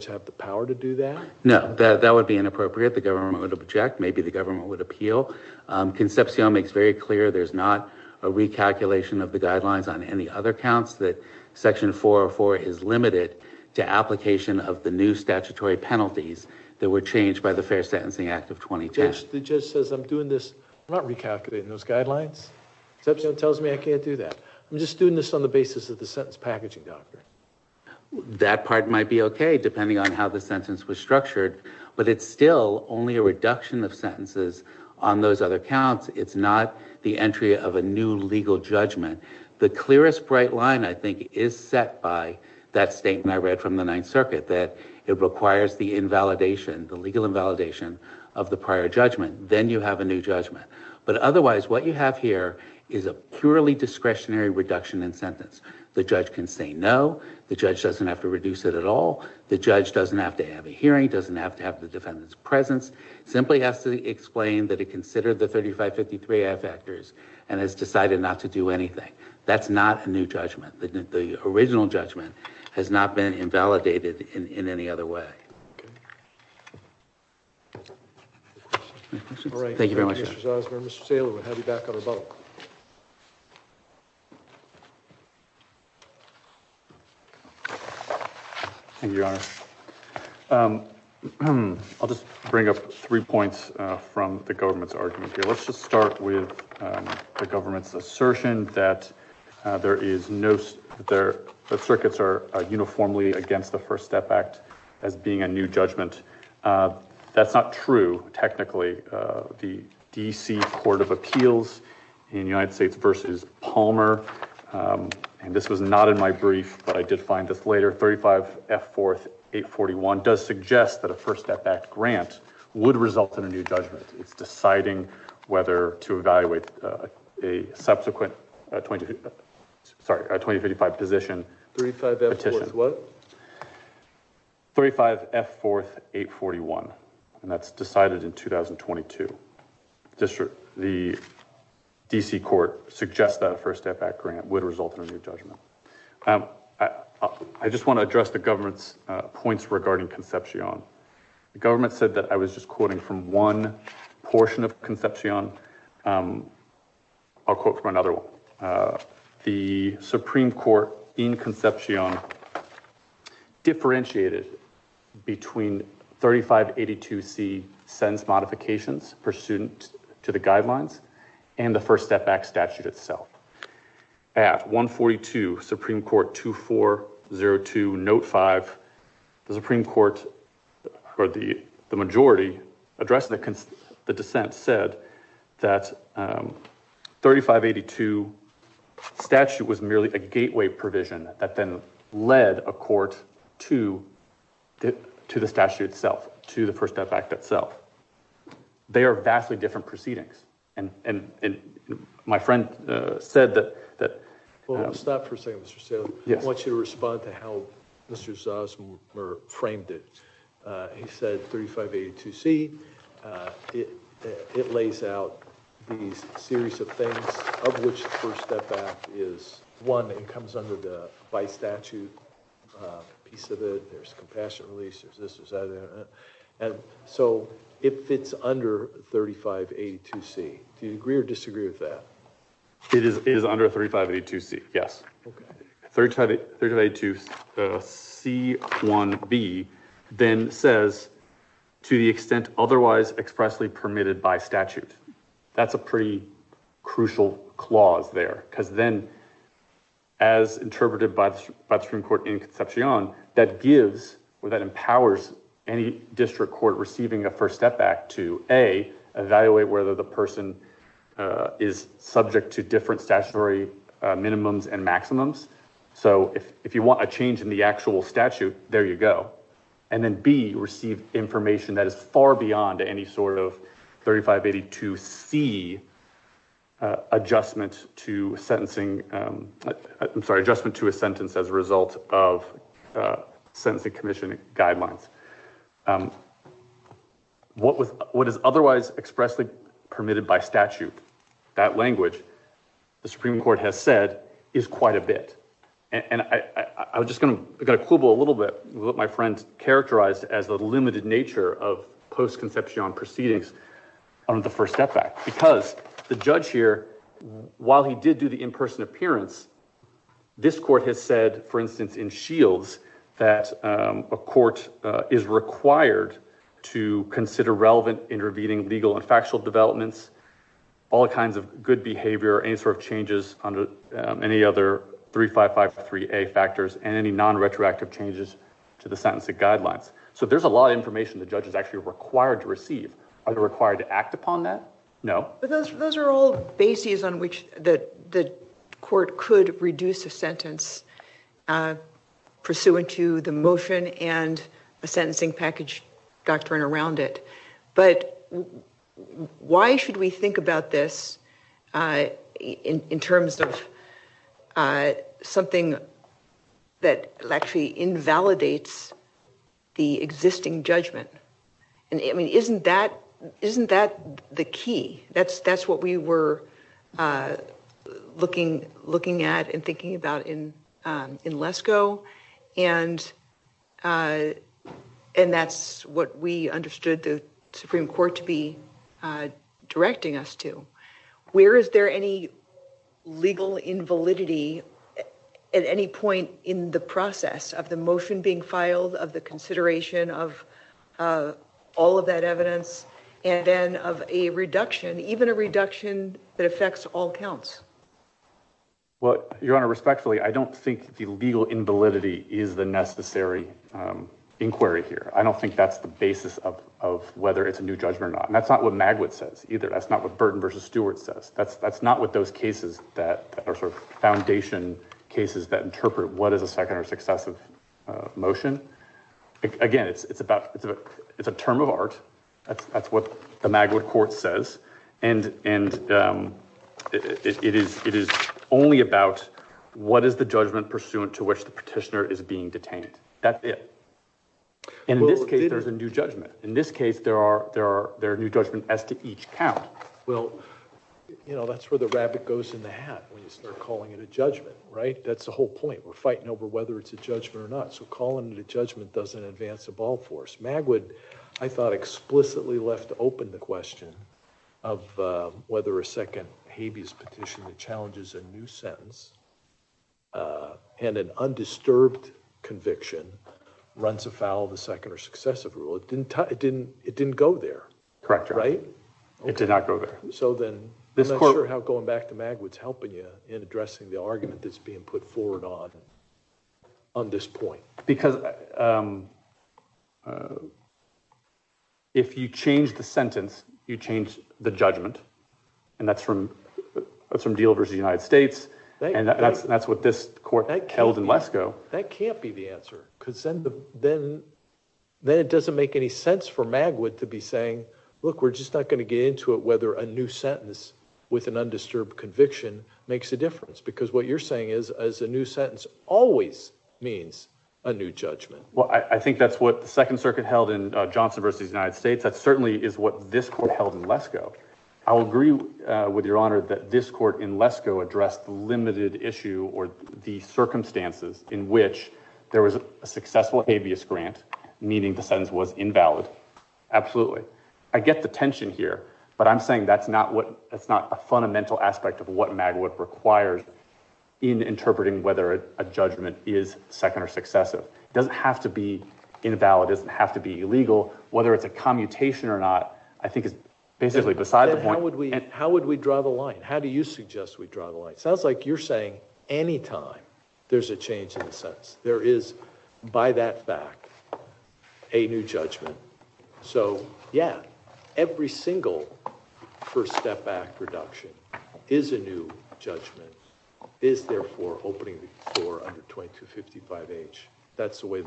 have the power to do that? No, that would be inappropriate. The government would object. Maybe the government would appeal. Concepcion makes very clear there's not a recalculation of the guidelines on any other counts that Section 404 is limited to application of the new statutory penalties that were changed by the Fair Sentencing Act of 2010. The judge says I'm doing this... I'm not recalculating those guidelines. Concepcion tells me I can't do that. I'm just doing this on the basis of the sentence packaging doctrine. That part might be okay depending on how the sentence was structured. But it's still only a reduction of sentences on those other counts. It's not the entry of a new legal judgment. The clearest bright line, I think, is set by that statement I read from the Ninth Circuit that it requires the invalidation, the legal invalidation of the prior judgment. Then you have a new judgment. But otherwise, what you have here is a purely discretionary reduction in sentence. The judge can say no. The judge doesn't have to reduce it at all. The judge doesn't have to have a hearing, doesn't have to have the defendant's presence. Simply has to explain that it considered the 3553A factors and has decided not to do anything. That's not a new judgment. The original judgment has not been invalidated in any other way. Any questions? Thank you very much. Mr. Osborne, Mr. Taylor, we'll have you back on the vote. Thank you, Your Honor. I'll just bring up three points from the government's argument here. Let's just start with the government's assertion that the circuits are uniformly against the First Step Act as being a new judgment. That's not true, technically. The D.C. Court of Appeals in United States v. Palmer, and this was not in my brief, but I did find this later, 35F4-841 does suggest that a First Step Act grant would result in a new judgment. It's deciding whether to evaluate a subsequent 2055 position petition. 35F4 what? 35F4-841, and that's decided in 2022. The D.C. Court suggests that a First Step Act grant would result in a new judgment. I just want to address the government's points regarding Concepcion. The government said that I was just quoting from one portion of Concepcion. I'll quote from another one. The Supreme Court in Concepcion differentiated between 3582C sentence modifications pursuant to the guidelines and the First Step Act statute itself. At 142 Supreme Court 2402 Note 5, the majority addressing the dissent said that 3582 statute was merely a gateway provision that then led a court to the statute itself, to the First Step Act itself. They are vastly different proceedings, and my friend said that- Well, stop for a second, Mr. Staley. Yes. I want you to respond to how Mr. Zosmer framed it. He said 3582C. It lays out these series of things of which the First Step Act is one. It comes under the by statute piece of it. There's compassion release. There's this, there's that. So if it's under 3582C, do you agree or disagree with that? It is under 3582C, yes. 3582C1B then says, to the extent otherwise expressly permitted by statute. That's a pretty crucial clause there because then as interpreted by the Supreme Court in Concepcion, that gives or that empowers any district court receiving a First Step Act to A, evaluate whether the person is subject to different statutory minimums and maximums. So if you want a change in the actual statute, there you go. And then B, receive information that is far beyond any sort of 3582C adjustment to sentencing. I'm sorry, adjustment to a sentence as a result of sentencing commission guidelines. What is otherwise expressly permitted by statute, that language, the Supreme Court has said, is quite a bit. And I was just gonna quibble a little bit with what my friend characterized as the limited nature of post-Concepcion proceedings under the First Step Act. Because the judge here, while he did do the in-person appearance, this court has said, for instance, in Shields, that a court is required to consider relevant intervening legal and factual developments, all kinds of good behavior, any sort of changes under any other 3553A factors and any non-retroactive changes to the sentencing guidelines. So there's a lot of information the judge is actually required to receive. Are they required to act upon that? No. But those are all bases on which the court could reduce a sentence pursuant to the motion and a sentencing package doctrine around it. But why should we think about this in terms of something that actually invalidates the existing judgment? I mean, isn't that the key? That's what we were looking at and thinking about in LESCO. And that's what we understood the Supreme Court to be directing us to. Where is there any legal invalidity at any point in the process of the motion being filed, of the consideration of all of that evidence, and then of a reduction, even a reduction that affects all counts? Well, Your Honor, respectfully, I don't think the legal invalidity is the necessary inquiry here. I don't think that's the basis of whether it's a new judgment or not. And that's not what Magwood says either. That's not what Burton v. Stewart says. That's not what those cases that are sort of foundation cases that interpret what is a second or successive motion. Again, it's a term of art. That's what the Magwood Court says. And it is only about what is the judgment pursuant to which the petitioner is being detained. That's it. In this case, there's a new judgment. In this case, there are new judgments as to each count. Well, you know, that's where the rabbit goes in the hat when you start calling it a judgment, right? That's the whole point. We're fighting over whether it's a judgment or not. So calling it a judgment doesn't advance the ball force. Magwood, I thought, explicitly left open the question of whether a second habeas petition that challenges a new sentence and an undisturbed conviction runs afoul of a second or successive rule. It didn't go there, right? Correct, Your Honor. It did not go there. So then I'm not sure how going back to Magwood's helping you in addressing the argument that's being put forward on this point. Because if you change the sentence, you change the judgment. And that's from Deal v. United States. And that's what this court held in Lesko. That can't be the answer. Because then it doesn't make any sense for Magwood to be saying, look, we're just not going to get into it whether a new sentence with an undisturbed conviction makes a difference. Because what you're saying is a new sentence always means a new judgment. Well, I think that's what the Second Circuit held in Johnson v. United States. That certainly is what this court held in Lesko. I'll agree with Your Honor that this court in Lesko addressed the limited issue or the circumstances in which there was a successful habeas grant, meaning the sentence was invalid. Absolutely. I get the tension here, but I'm saying that's not a fundamental aspect of what Magwood requires in interpreting whether a judgment is second or successive. It doesn't have to be invalid. It doesn't have to be illegal. Whether it's a commutation or not, I think is basically beside the point. How would we draw the line? How do you suggest we draw the line? It sounds like you're saying any time there's a change in the sentence. There is, by that fact, a new judgment. So, yeah, every single First Step Act reduction is a new judgment, is therefore opening the door under 2255H. That's the way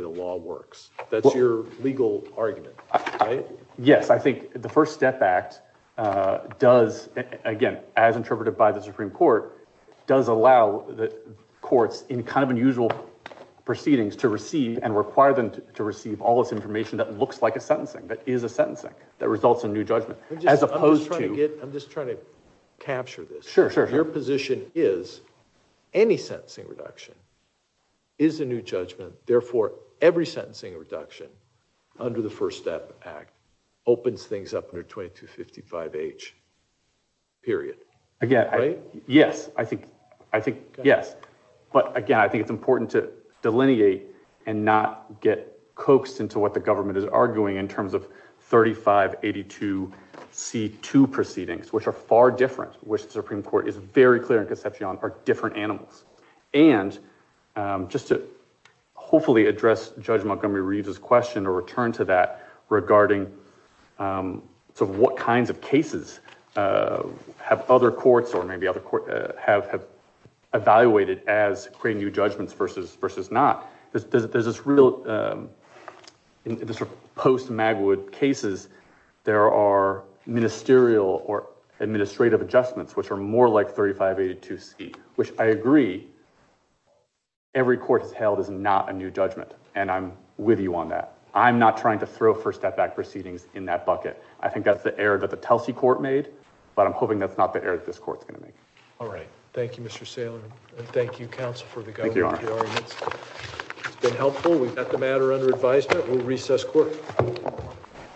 the law works. That's your legal argument, right? Yes, I think the First Step Act does, again, as interpreted by the Supreme Court, does allow the courts in kind of unusual proceedings to receive and require them to receive all this information that looks like a sentencing, that is a sentencing, that results in a new judgment, as opposed to... I'm just trying to capture this. Sure, sure. Your position is any sentencing reduction is a new judgment. Therefore, every sentencing reduction under the First Step Act opens things up under 2255H, period. Yes, I think, yes. But, again, I think it's important to delineate and not get coaxed into what the government is arguing in terms of 3582C2 proceedings, which are far different, which the Supreme Court is very clear in Concepcion are different animals. And just to hopefully address Judge Montgomery-Reeves' question or return to that, regarding what kinds of cases have other courts or maybe other courts have evaluated as creating new judgments versus not, there's this real... In the sort of post-Magwood cases, there are ministerial or administrative adjustments, which are more like 3582C, which I agree every court has held is not a new judgment, and I'm with you on that. I'm not trying to throw First Step Act proceedings in that bucket. I think that's the error that the Telsey court made, but I'm hoping that's not the error that this court's going to make. All right. Thank you, Mr. Saylor. And thank you, counsel, for the government of your arguments. It's been helpful. We've got the matter under advisement. We'll recess court.